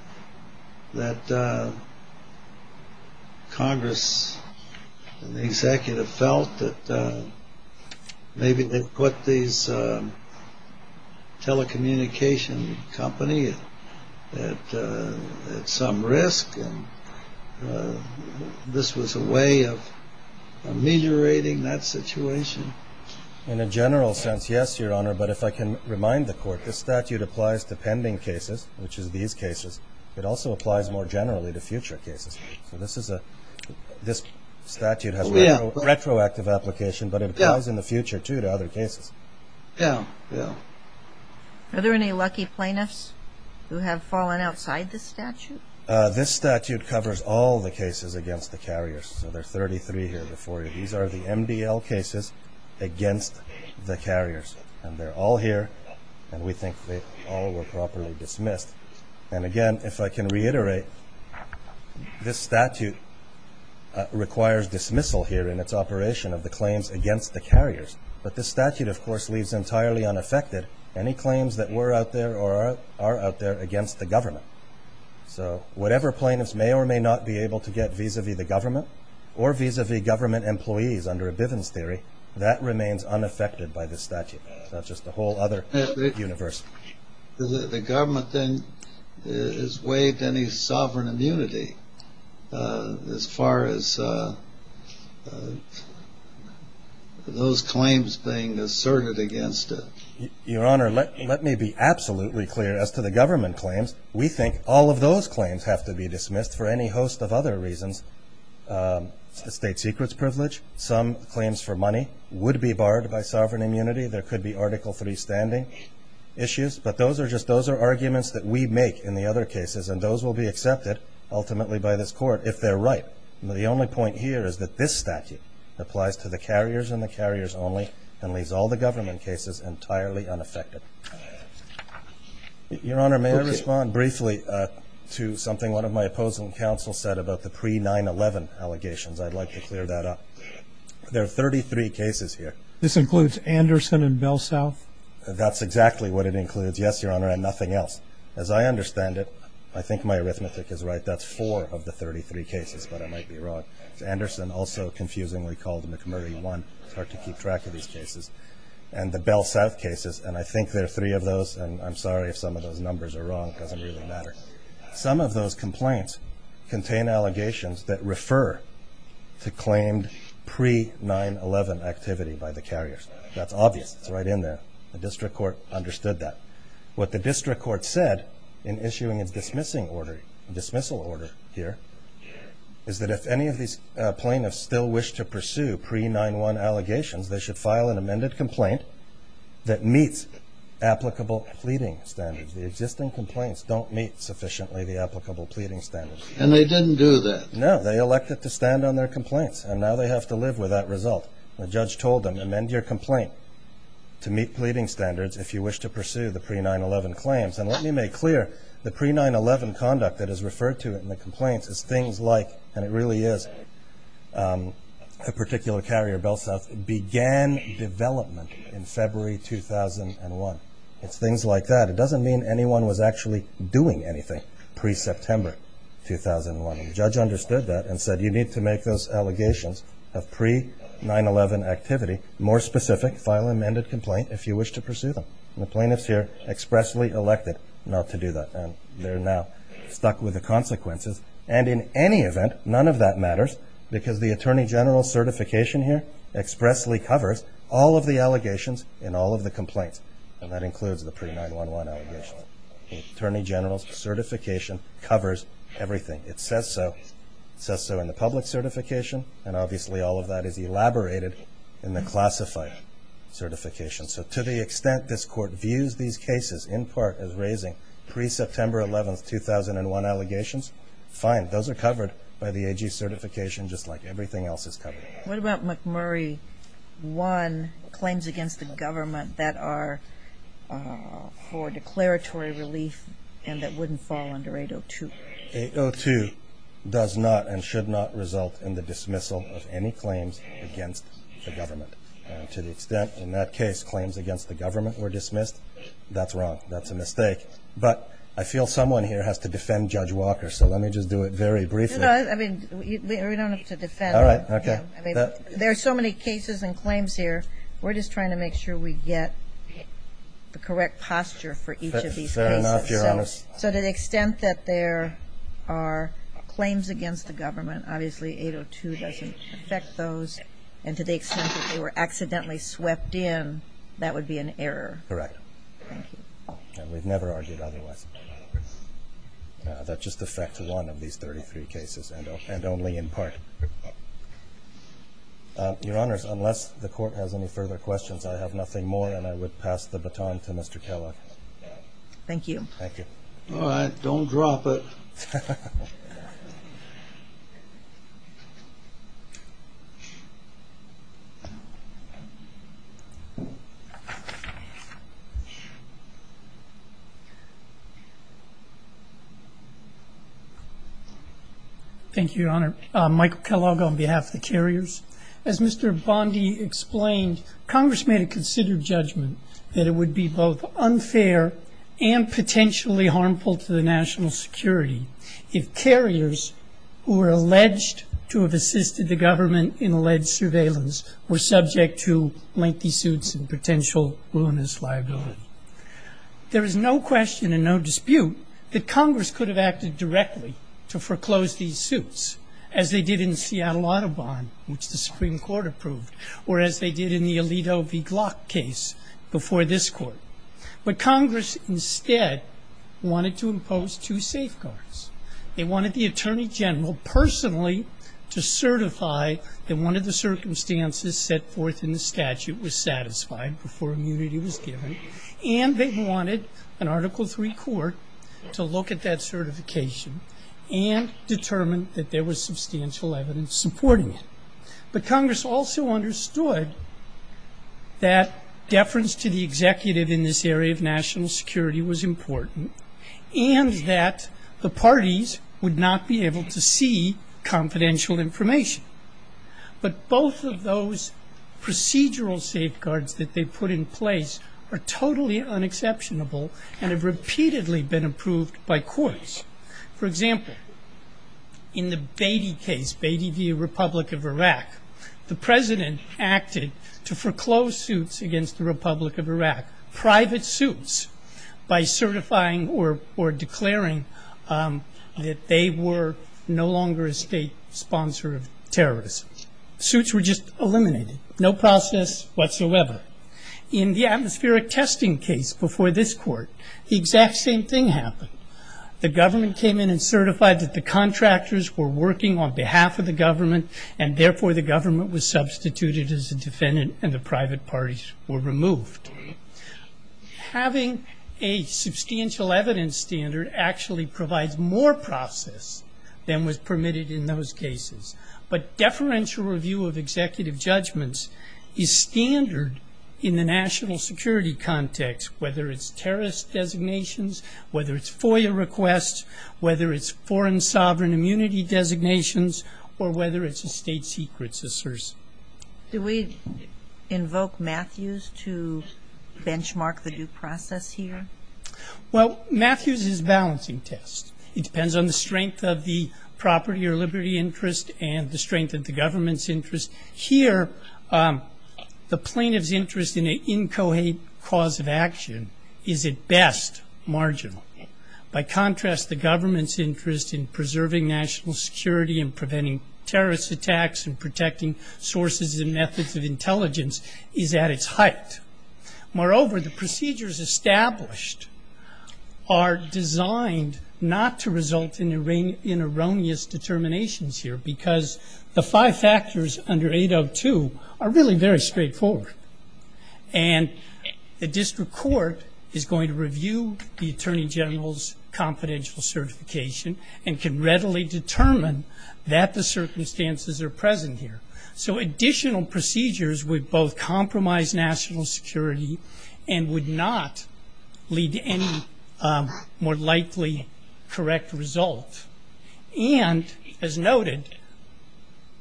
that Congress and the executive felt that maybe they'd put these telecommunication companies at some risk, and this was a way of ameliorating that situation. In a general sense, yes, Your Honor, but if I can remind the Court, the statute applies to pending cases, which is these cases. It also applies more generally to future cases. This statute has a retroactive application, but it applies in the future, too, to other cases. Yeah, yeah. Are there any lucky plaintiffs who have fallen outside this statute? This statute covers all the cases against the carriers. There are 33 here before you. These are the MDL cases against the carriers, and they're all here, and we think they all were properly dismissed. And again, if I can reiterate, this statute requires dismissal here in its operation of the claims against the carriers, but this statute, of course, leaves entirely unaffected any claims that were out there or are out there against the government. So whatever plaintiffs may or may not be able to get vis-a-vis the government or vis-a-vis government employees under a Bivens theory, that remains unaffected by this statute. That's just the whole other universe. The government then has waived any sovereign immunity as far as those claims being asserted against it. Your Honor, let me be absolutely clear. As to the government claims, we think all of those claims have to be dismissed for any host of other reasons. State secrets privilege, some claims for money would be barred by sovereign immunity. There could be Article III standing issues, but those are arguments that we make in the other cases, and those will be accepted ultimately by this Court if they're right. The only point here is that this statute applies to the carriers and the carriers only and leaves all the government cases entirely unaffected. Your Honor, may I respond briefly to something one of my opposing counsels said about the pre-9-11 allegations? I'd like to clear that up. There are 33 cases here. This includes Anderson and Bell South? That's exactly what it includes, yes, Your Honor, and nothing else. As I understand it, I think my arithmetic is right, that's four of the 33 cases, but I might be wrong. Anderson, also confusingly called McMurray One, hard to keep track of these cases. And the Bell South cases, and I think there are three of those, and I'm sorry if some of those numbers are wrong, it doesn't really matter. Some of those complaints contain allegations that refer to claimed pre-9-11 activity by the carriers. That's obvious. It's right in there. The District Court understood that. What the District Court said in issuing a dismissal order here is that if any of these plaintiffs still wish to pursue pre-9-1 allegations, they should file an amended complaint that meets applicable pleading standards. The existing complaints don't meet sufficiently the applicable pleading standards. And they didn't do that? No, they elected to stand on their complaints, and now they have to live with that result. The judge told them, amend your complaint to meet pleading standards if you wish to pursue the pre-9-11 claims. And let me make clear, the pre-9-11 conduct that is referred to in the complaint is things like, and it really is a particular carrier, Bell South, began development in February 2001. It's things like that. It doesn't mean anyone was actually doing anything pre-September 2001. And the judge understood that and said, you need to make those allegations of pre-9-11 activity more specific, file an amended complaint if you wish to pursue them. And the plaintiffs here expressly elected not to do that, and they're now stuck with the consequences. And in any event, none of that matters, because the Attorney General's certification here expressly covers all of the allegations in all of the complaints. And that includes the pre-9-11 allegations. The Attorney General's certification covers everything. It says so in the public certification, and obviously all of that is elaborated in the classified certification. So to the extent this Court views these cases in part as raising pre-September 11, 2001 allegations, fine, those are covered by the AG certification just like everything else is covered. What about McMurray 1, claims against the government that are for declaratory relief and that wouldn't fall under 802? 802 does not and should not result in the dismissal of any claims against the government. And to the extent in that case claims against the government were dismissed, that's wrong. That's a mistake. But I feel someone here has to defend Judge Walker, so let me just do it very briefly. We don't have to defend. There are so many cases and claims here. We're just trying to make sure we get the correct posture for each of these cases. So to the extent that there are claims against the government, obviously 802 doesn't affect those. And to the extent that they were accidentally swept in, that would be an error. Correct. And we've never argued otherwise. That just affects one of these 33 cases and only in part. Your Honors, unless the Court has any further questions, I have nothing more, and I would pass the baton to Mr. Keller. Thank you. Thank you. All right. Don't drop it. Thank you, Your Honor. Michael Kellogg on behalf of the carriers. As Mr. Bondi explained, Congress may have considered judgment that it would be both unfair and potentially harmful to the national security if carriers who were alleged to have assisted the government in alleged surveillance were subject to lengthy suits and potential ruinous liability. There is no question and no dispute that Congress could have acted directly to foreclose these suits, as they did in Seattle-Audubon, which the Supreme Court approved, or as they did in the Alito v. Glock case before this Court. But Congress instead wanted to impose two safeguards. They wanted the Attorney General personally to certify that one of the circumstances set forth in the statute was satisfied before immunity was given, and they wanted an Article III Court to look at that certification and determine that there was substantial evidence supporting it. But Congress also understood that deference to the executive in this area of national security was important, and that the parties would not be able to see confidential information. But both of those procedural safeguards that they put in place are totally unexceptionable and have repeatedly been approved by courts. For example, in the Beatty case, Beatty v. Republic of Iraq, the President acted to foreclose suits against the Republic of Iraq, private suits, by certifying or declaring that they were no longer a state sponsor of terrorism. Suits were just eliminated. No process whatsoever. In the atmospheric testing case before this Court, the exact same thing happened. The government came in and certified that the contractors were working on behalf of the government, and therefore the government was substituted as a defendant and the private parties were removed. Having a substantial evidence standard actually provides more process than was permitted in those cases. But deferential review of executive judgments is standard in the national security context, whether it's terrorist designations, whether it's FOIA requests, whether it's foreign sovereign immunity designations, or whether it's a state secrets assertion. Do we invoke Matthews to benchmark the due process here? Well, Matthews is a balancing test. It depends on the strength of the property or liberty interest and the strength of the government's interest. Here, the plaintiff's interest in an incoherent cause of action is at best marginal. By contrast, the government's interest in preserving national security and preventing terrorist attacks and protecting sources and methods of intelligence is at its height. Moreover, the procedures established are designed not to result in erroneous determinations here because the five factors under 802 are really very straightforward. And the district court is going to review the attorney general's confidential certification and can readily determine that the circumstances are present here. So additional procedures would both compromise national security and would not lead to any more likely correct result. And, as noted,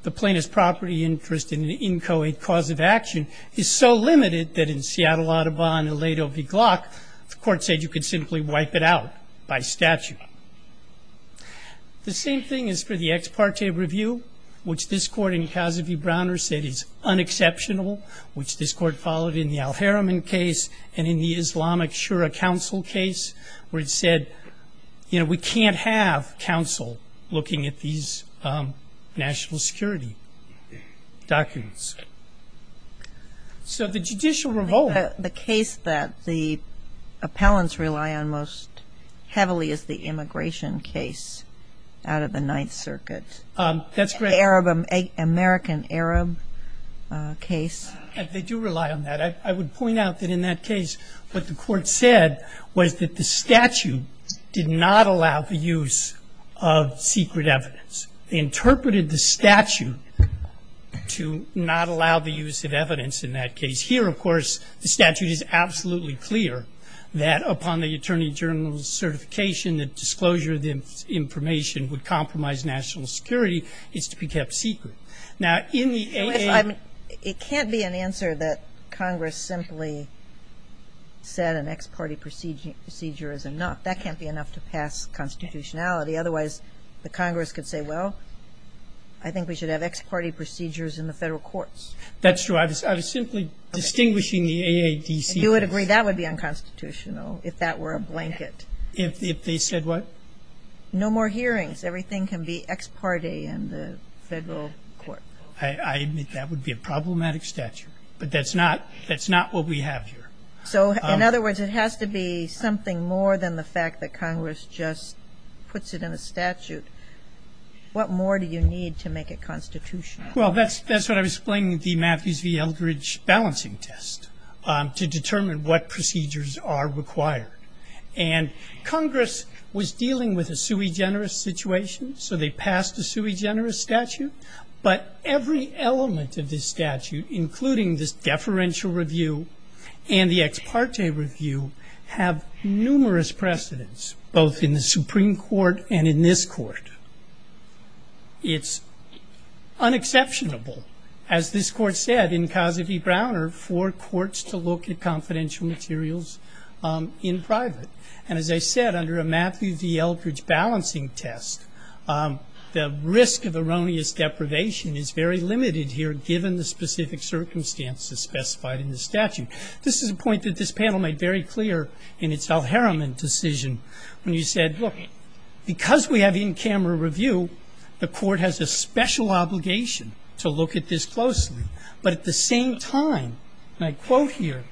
the plaintiff's property interest in the incoherent cause of action is so limited that in Seattle Audubon and Aledo v. Glock, the court said you could simply wipe it out by statute. The same thing is for the ex parte review, which this court in Casabie-Browner said is unexceptional, which this court followed in the Al-Haraman case and in the Islamic Shura Council case, where it said, you know, we can't have counsel looking at these national security documents. So the judicial revolt. The case that the appellants rely on most heavily is the immigration case out of the Ninth Circuit. That's correct. American Arab case. They do rely on that. I would point out that in that case what the court said was that the statute did not allow the use of secret evidence. They interpreted the statute to not allow the use of evidence in that case. Here, of course, the statute is absolutely clear that upon the attorney general's certification, the disclosure of the information would compromise national security. It's to be kept secret. It can't be an answer that Congress simply said an ex parte procedure is enough. That can't be enough to pass constitutionality. Otherwise, the Congress could say, well, I think we should have ex parte procedures in the federal courts. That's true. I was simply distinguishing the AAPC. You would agree that would be unconstitutional if that were a blanket. If they said what? No more hearings. Everything can be ex parte in the federal court. I admit that would be a problematic statute. But that's not what we have here. So, in other words, it has to be something more than the fact that Congress just puts it in a statute. What more do you need to make it constitutional? Well, that's what I was explaining with the Matthews v. Eldridge balancing test to determine what procedures are required. And Congress was dealing with a sui generis situation, so they passed a sui generis statute. But every element of this statute, including this deferential review and the ex parte review, have numerous precedents, both in the Supreme Court and in this court. It's unexceptionable, as this court said, in Cassidy-Browner, for courts to look at confidential materials in private. And as I said, under a Matthews v. Eldridge balancing test, the risk of erroneous deprivation is very limited here, given the specific circumstances specified in the statute. This is a point that this panel made very clear in its Al Harriman decision, when he said, look, because we have in-camera review, the court has a special obligation to look at this closely. But at the same time, and I quote here,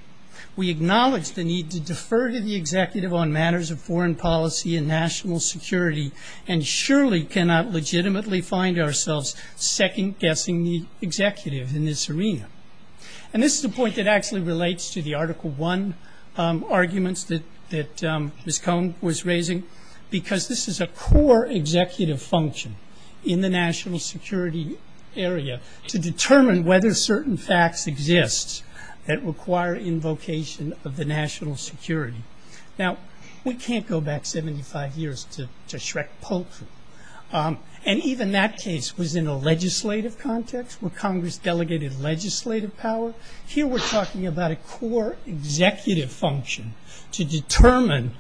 we acknowledge the need to defer to the executive on matters of foreign policy and national security, and surely cannot legitimately find ourselves second-guessing the executive in this arena. And this is a point that actually relates to the Article I arguments that Ms. Cohen was raising, because this is a core executive function in the national security area, to determine whether certain facts exist that require invocation of the national security. Now, we can't go back 75 years to Shrek-Poulsen. And even that case was in a legislative context, where Congress delegated legislative power. Here we're talking about a core executive function to determine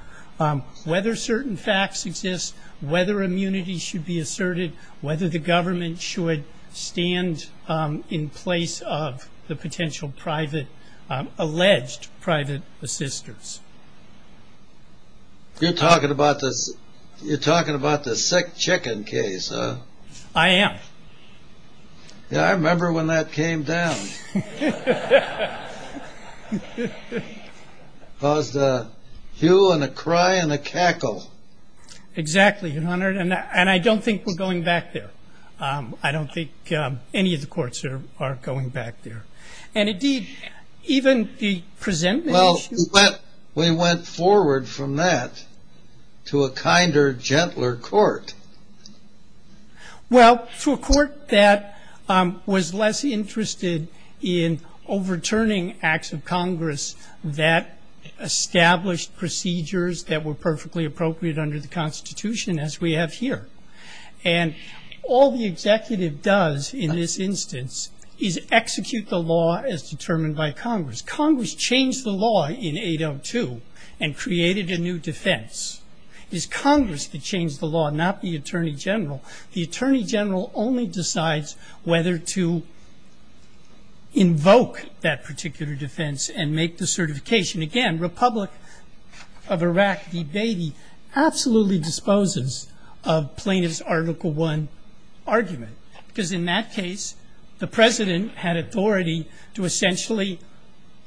whether certain facts exist, whether immunity should be asserted, whether the government should stand in place of the potential alleged private assisters. You're talking about the sick chicken case, huh? I am. Yeah, I remember when that came down. That was a hue and a cry and a cackle. Exactly, and I don't think we're going back there. I don't think any of the courts are going back there. Well, we went forward from that to a kinder, gentler court. Well, to a court that was less interested in overturning acts of Congress that established procedures that were perfectly appropriate under the Constitution, as we have here. And all the executive does in this instance is execute the law as determined by Congress. Congress changed the law in 802 and created a new defense. It's Congress that changed the law, not the Attorney General. The Attorney General only decides whether to invoke that particular defense and make the certification. Again, Republic of Iraq debate absolutely disposes of plaintiff's Article I argument. Because in that case, the President had authority to essentially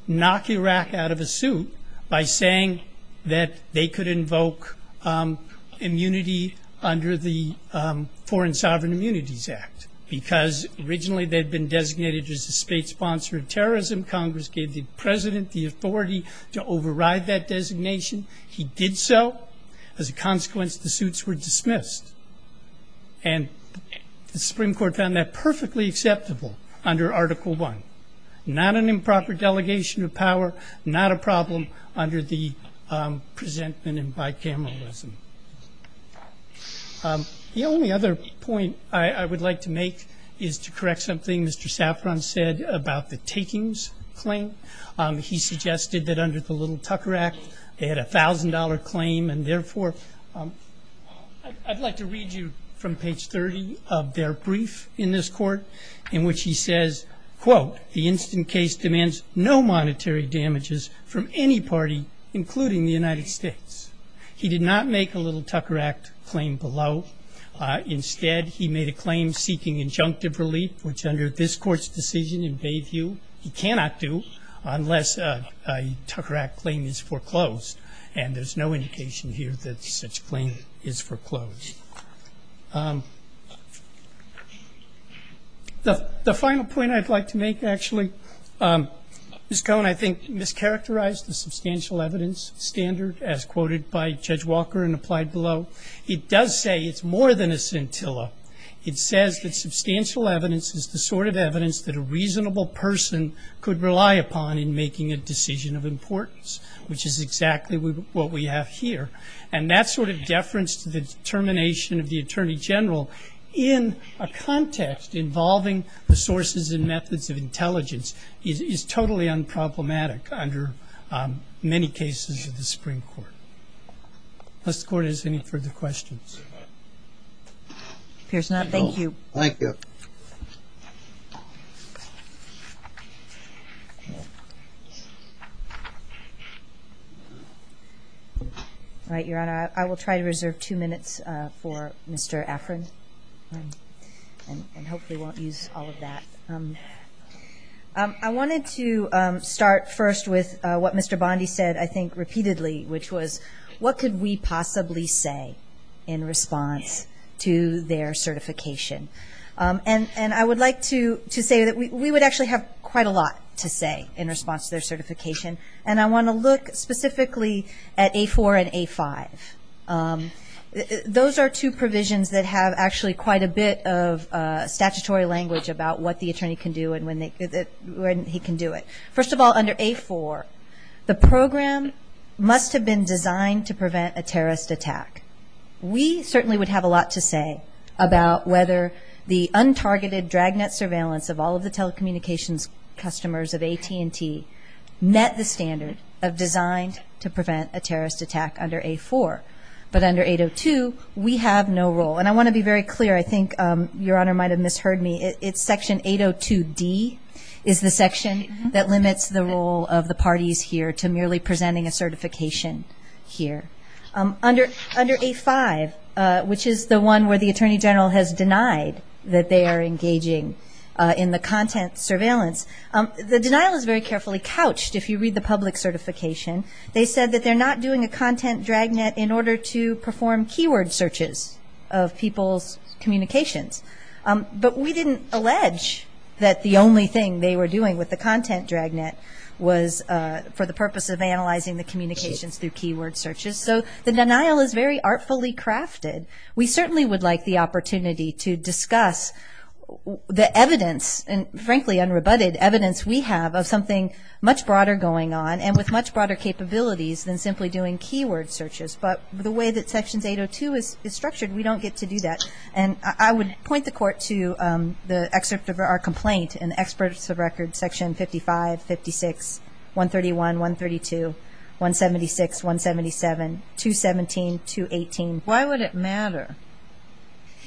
knock Iraq out of the suit by saying that they could invoke immunity under the Foreign Sovereign Immunities Act. Because originally they'd been designated as a state sponsor of terrorism. Congress gave the President the authority to override that designation. He did so. As a consequence, the suits were dismissed. And the Supreme Court found that perfectly acceptable under Article I. Not an improper delegation of power, not a problem under the presentment and bicameralism. The only other point I would like to make is to correct something Mr. Saffron said about the takings claim. He suggested that under the Little Tucker Act, they had a $1,000 claim. And therefore, I'd like to read you from page 30 of their brief in this court in which he says, quote, the instant case demands no monetary damages from any party, including the United States. He did not make a Little Tucker Act claim below. Instead, he made a claim seeking injunctive relief, which under this court's decision in Bayview, he cannot do unless a Tucker Act claim is foreclosed. And there's no indication here that such claim is foreclosed. The final point I'd like to make, actually, Ms. Cohen, I think you mischaracterized the substantial evidence standard as quoted by Judge Walker and applied below. It does say it's more than a scintilla. It says that substantial evidence is the sort of evidence that a reasonable person could rely upon in making a decision of importance, which is exactly what we have here. And that sort of deference to the determination of the attorney general in a context involving the sources and methods of intelligence is totally unproblematic under many cases of the Supreme Court. Does the court have any further questions? No. Thank you. All right, Your Honor, I will try to reserve two minutes for Mr. Afrin and hopefully won't use all of that. I wanted to start first with what Mr. Bondi said, I think, repeatedly, which was what could we possibly say in response to their certification? And I would like to say that we would actually have quite a lot to say in response to their certification. And I want to look specifically at A4 and A5. Those are two provisions that have actually quite a bit of statutory language about what the attorney can do and when he can do it. First of all, under A4, the program must have been designed to prevent a terrorist attack. We certainly would have a lot to say about whether the untargeted dragnet surveillance of all of the telecommunications customers of AT&T met the standards of design to prevent a terrorist attack under A4. But under 802, we have no role. And I want to be very clear, I think Your Honor might have misheard me. It's section 802D is the section that limits the role of the parties here to merely presenting a certification here. Under A5, which is the one where the Attorney General has denied that they are engaging in the content surveillance, the denial is very carefully couched if you read the public certification. They said that they're not doing a content dragnet in order to perform keyword searches of people's communications. But we didn't allege that the only thing they were doing with the content dragnet was for the purpose of analyzing the communications through keyword searches. So the denial is very artfully crafted. We certainly would like the opportunity to discuss the evidence, and frankly unrebutted evidence we have, of something much broader going on and with much broader capabilities than simply doing keyword searches. But the way that section 802 is structured, we don't get to do that. And I would point the Court to the excerpt of our complaint in experts of record section 55, 56, 131, 132, 176, 177, 217, 218. Why would it matter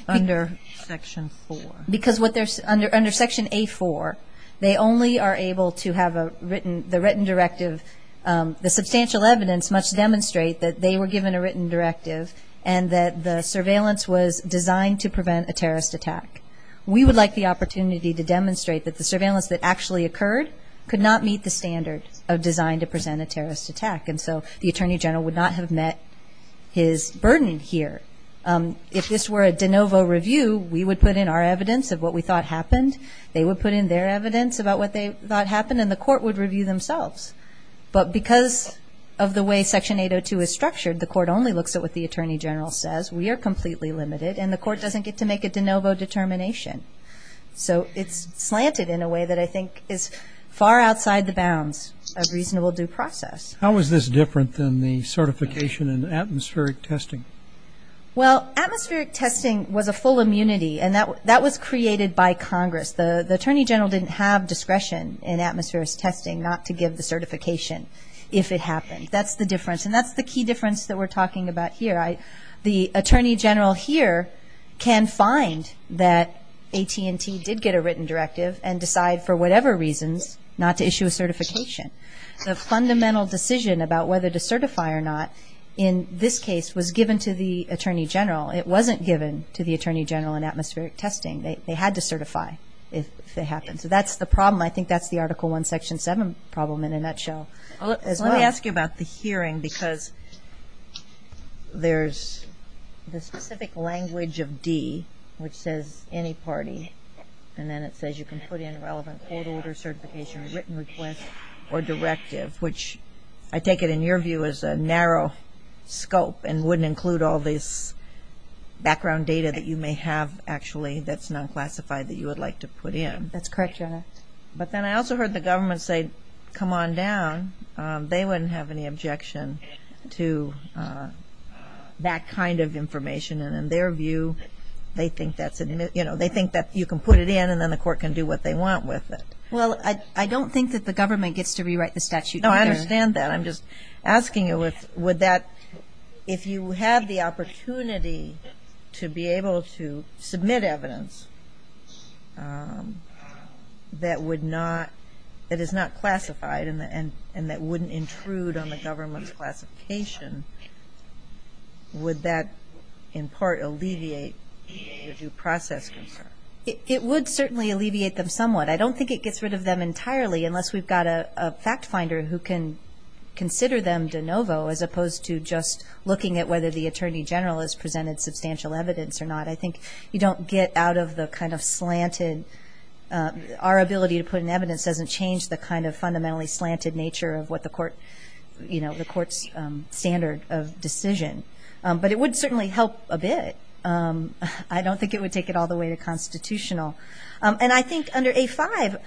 under section 4? Because under section A4, they only are able to have the written directive. The substantial evidence must demonstrate that they were given a written directive and that the surveillance was designed to prevent a terrorist attack. We would like the opportunity to demonstrate that the surveillance that actually occurred could not meet the standards of designed to present a terrorist attack. And so the Attorney General would not have met his burden here. If this were a de novo review, we would put in our evidence of what we thought happened. They would put in their evidence about what they thought happened, and the Court would review themselves. But because of the way section 802 is structured, the Court only looks at what the Attorney General says. We are completely limited, and the Court doesn't get to make a de novo determination. So it's slanted in a way that I think is far outside the bounds of reasonable due process. How is this different than the certification in atmospheric testing? Well, atmospheric testing was a full immunity, and that was created by Congress. The Attorney General didn't have discretion in atmospheric testing not to give the certification if it happened. That's the difference, and that's the key difference that we're talking about here. The Attorney General here can find that AT&T did get a written directive and decide for whatever reason not to issue a certification. The fundamental decision about whether to certify or not in this case was given to the Attorney General. It wasn't given to the Attorney General in atmospheric testing. They had to certify if it happened. So that's the problem. I think that's the Article I, Section 7 problem in a nutshell. Let me ask you about the hearing because there's the specific language of D which says any party, and then it says you can put in relevant 802 certification, written request, or directive, which I take it in your view is a narrow scope and wouldn't include all this background data that you may have actually that's not classified that you would like to put in. That's correct, Your Honor. But then I also heard the government say, come on down. They wouldn't have any objection to that kind of information, and in their view they think that you can put it in and then the court can do what they want with it. Well, I don't think that the government gets to rewrite the statute either. No, I understand that. I'm just asking if you have the opportunity to be able to submit evidence that is not classified and that wouldn't intrude on the government classification, would that in part alleviate your due process? It would certainly alleviate them somewhat. I don't think it gets rid of them entirely unless we've got a fact finder who can consider them de novo as opposed to just looking at whether the attorney general has presented substantial evidence or not. I think you don't get out of the kind of slanted. Our ability to put in evidence doesn't change the kind of fundamentally slanted nature of what the court's standard of decision. But it would certainly help a bit. I don't think it would take it all the way to constitutional. And I think under A5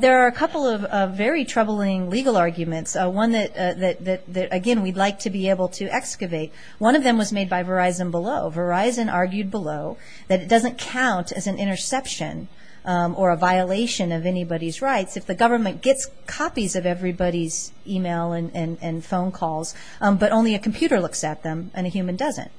there are a couple of very troubling legal arguments, one that again we'd like to be able to excavate. One of them was made by Verizon Below. Verizon argued below that it doesn't count as an interception or a violation of anybody's rights if the government gets copies of everybody's email and phone calls, but only a computer looks at them and a human doesn't.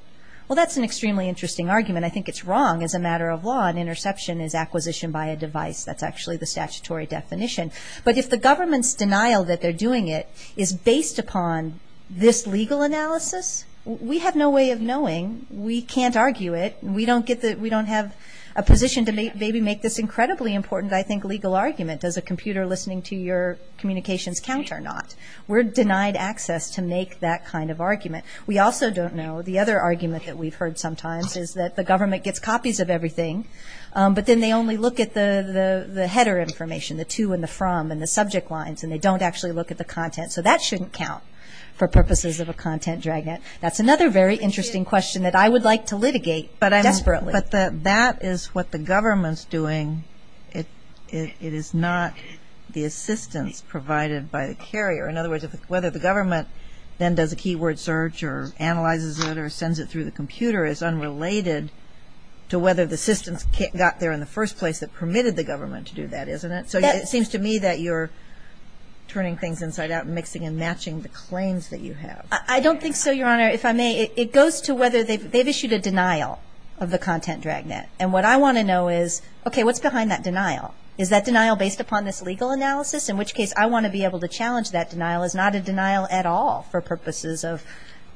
Well, that's an extremely interesting argument. I think it's wrong as a matter of law. An interception is acquisition by a device. That's actually the statutory definition. But if the government's denial that they're doing it is based upon this legal analysis, we have no way of knowing. We can't argue it. We don't have a position to maybe make this incredibly important, I think, legal argument. Does a computer listening to your communications count or not? We're denied access to make that kind of argument. We also don't know. The other argument that we've heard sometimes is that the government gets copies of everything, but then they only look at the header information, the to and the from and the subject lines, and they don't actually look at the content. So that shouldn't count for purposes of a content dragnet. That's another very interesting question that I would like to litigate desperately. But that is what the government's doing. It is not the assistance provided by the carrier. In other words, whether the government then does a keyword search or analyzes it or sends it through the computer is unrelated to whether the assistance got there in the first place that permitted the government to do that, isn't it? So it seems to me that you're turning things inside out and mixing and matching the claims that you have. I don't think so, Your Honor. If I may, it goes to whether they've issued a denial of the content dragnet. And what I want to know is, okay, what's behind that denial? Is that denial based upon this legal analysis? In which case, I want to be able to challenge that denial. It's not a denial at all for purposes of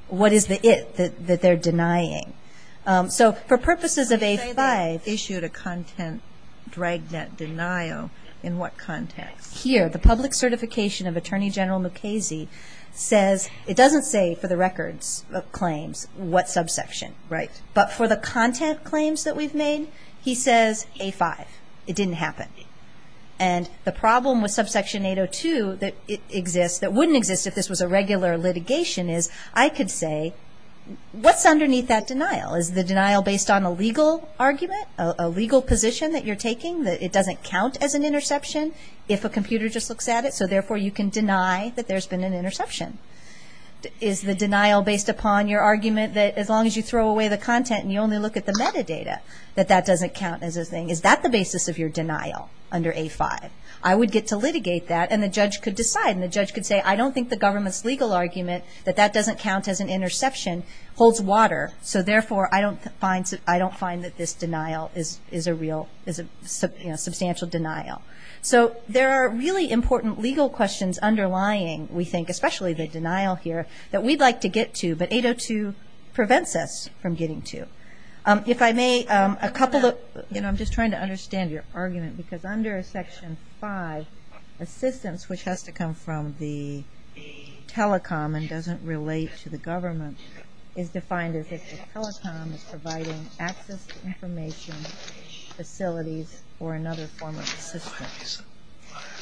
what is it that they're denying. So for purposes of A-5. You say they issued a content dragnet denial. In what context? Here, the public certification of Attorney General Mukasey says it doesn't say for the record of claims what subsection. Right. But for the content claims that we've made, he says A-5. It didn't happen. And the problem with subsection 802 that exists, that wouldn't exist if this was a regular litigation, is I could say, what's underneath that denial? Is the denial based on a legal argument, a legal position that you're taking, that it doesn't count as an interception if a computer just looks at it? So therefore, you can deny that there's been an interception. Is the denial based upon your argument that as long as you throw away the content and you only look at the metadata, that that doesn't count as a thing? Is that the basis of your denial under A-5? I would get to litigate that, and the judge could decide. And the judge could say, I don't think the government's legal argument, that that doesn't count as an interception, holds water. So therefore, I don't find that this denial is a substantial denial. So there are really important legal questions underlying, we think, especially the denial here, that we'd like to get to. But 802 prevents us from getting to. I'm just trying to understand your argument, because under Section 5, assistance, which has to come from the telecom and doesn't relate to the government, is defined as if the telecom is providing access to information, facilities, or another form of assistance.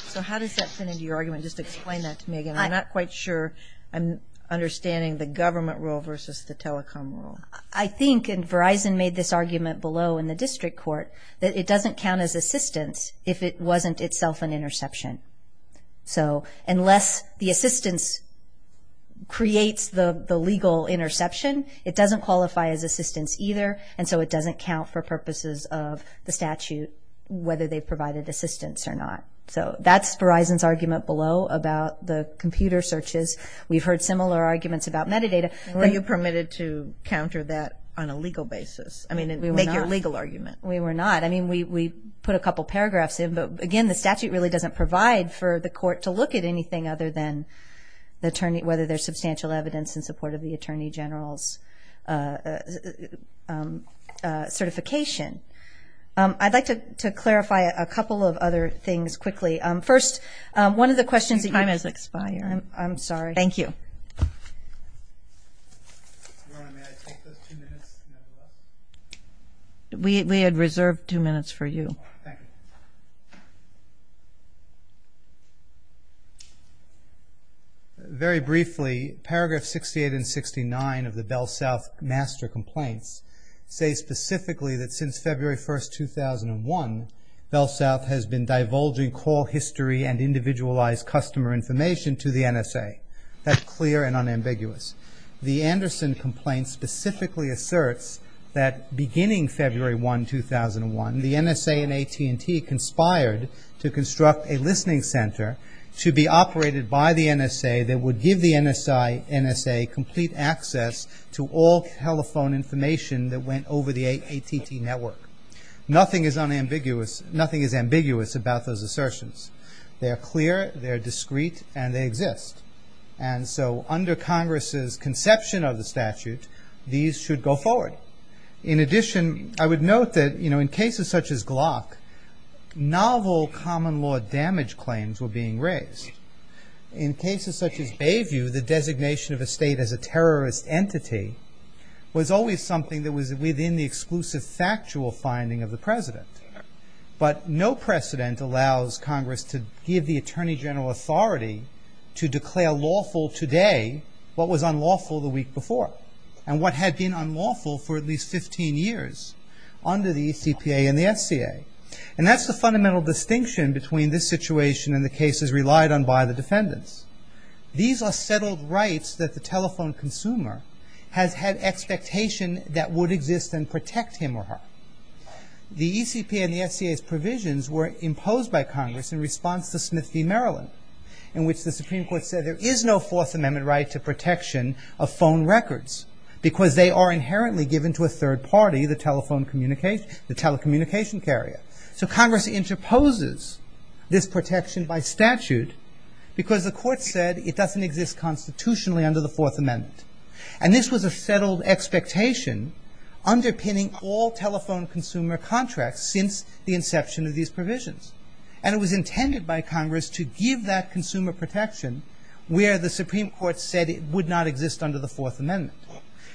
So how does that fit into your argument? Just explain that to me. I'm not quite sure I'm understanding the government rule versus the telecom rule. I think, and Verizon made this argument below in the district court, that it doesn't count as assistance if it wasn't itself an interception. So unless the assistance creates the legal interception, it doesn't qualify as assistance either, and so it doesn't count for purposes of the statute, whether they provided assistance or not. So that's Verizon's argument below about the computer searches. We've heard similar arguments about metadata. Were you permitted to counter that on a legal basis? I mean, make your legal argument. We were not. I mean, we put a couple paragraphs in, but, again, the statute really doesn't provide for the court to look at anything other than the attorney, whether there's substantial evidence in support of the attorney general's certification. I'd like to clarify a couple of other things quickly. First, one of the questions that you asked. Your time has expired. I'm sorry. Thank you. Thank you. We had reserved two minutes for you. Thank you. Very briefly, Paragraph 68 and 69 of the BellSouth Master Complaints state specifically that since February 1, 2001, BellSouth has been divulging call history and individualized customer information to the NSA. That's clear and unambiguous. The Anderson complaint specifically asserts that beginning February 1, 2001, the NSA and AT&T conspired to construct a listening center to be operated by the NSA that would give the NSA complete access to all telephone information that went over the AT&T network. Nothing is ambiguous about those assertions. They're clear, they're discreet, and they exist. And so under Congress's conception of the statute, these should go forward. In addition, I would note that in cases such as Glock, novel common law damage claims were being raised. In cases such as Bayview, the designation of a state as a terrorist entity was always something that was within the exclusive factual finding of the president. But no precedent allows Congress to give the Attorney General authority to declare lawful today what was unlawful the week before and what had been unlawful for at least 15 years under the ECPA and the NCA. And that's the fundamental distinction between this situation and the cases relied on by the defendants. These are settled rights that the telephone consumer has had expectation that would exist and protect him or her. The ECPA and the NCA's provisions were imposed by Congress in response to Smith v. Maryland, in which the Supreme Court said there is no Fourth Amendment right to protection of phone records because they are inherently given to a third party, the telephone communicator, the telecommunication carrier. So Congress interposes this protection by statute because the court said it doesn't exist constitutionally under the Fourth Amendment. And this was a settled expectation underpinning all telephone consumer contracts since the inception of these provisions. And it was intended by Congress to give that consumer protection where the Supreme Court said it would not exist under the Fourth Amendment.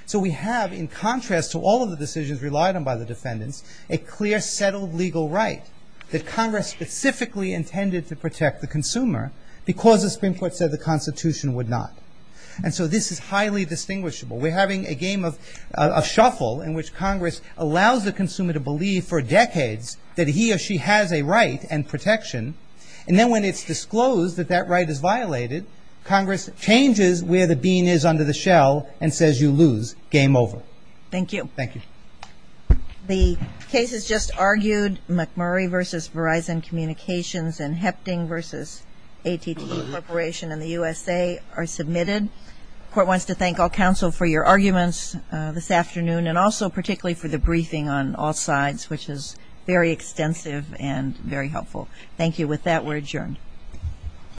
So we have, in contrast to all of the decisions relied on by the defendants, a clear settled legal right that Congress specifically intended to protect the consumer because the Supreme Court said the Constitution would not. And so this is highly distinguishable. We're having a game of shuffle in which Congress allows the consumer to believe for decades that he or she has a right and protection. And then when it's disclosed that that right is violated, Congress changes where the bean is under the shell and says you lose. Game over. Thank you. Thank you. The cases just argued, McMurray v. Verizon Communications and Hefting v. AT&T Corporation in the USA, are submitted. The Court wants to thank all counsel for your arguments this afternoon and also particularly for the briefing on all sides, which is very extensive and very helpful. Thank you. With that, we're adjourned.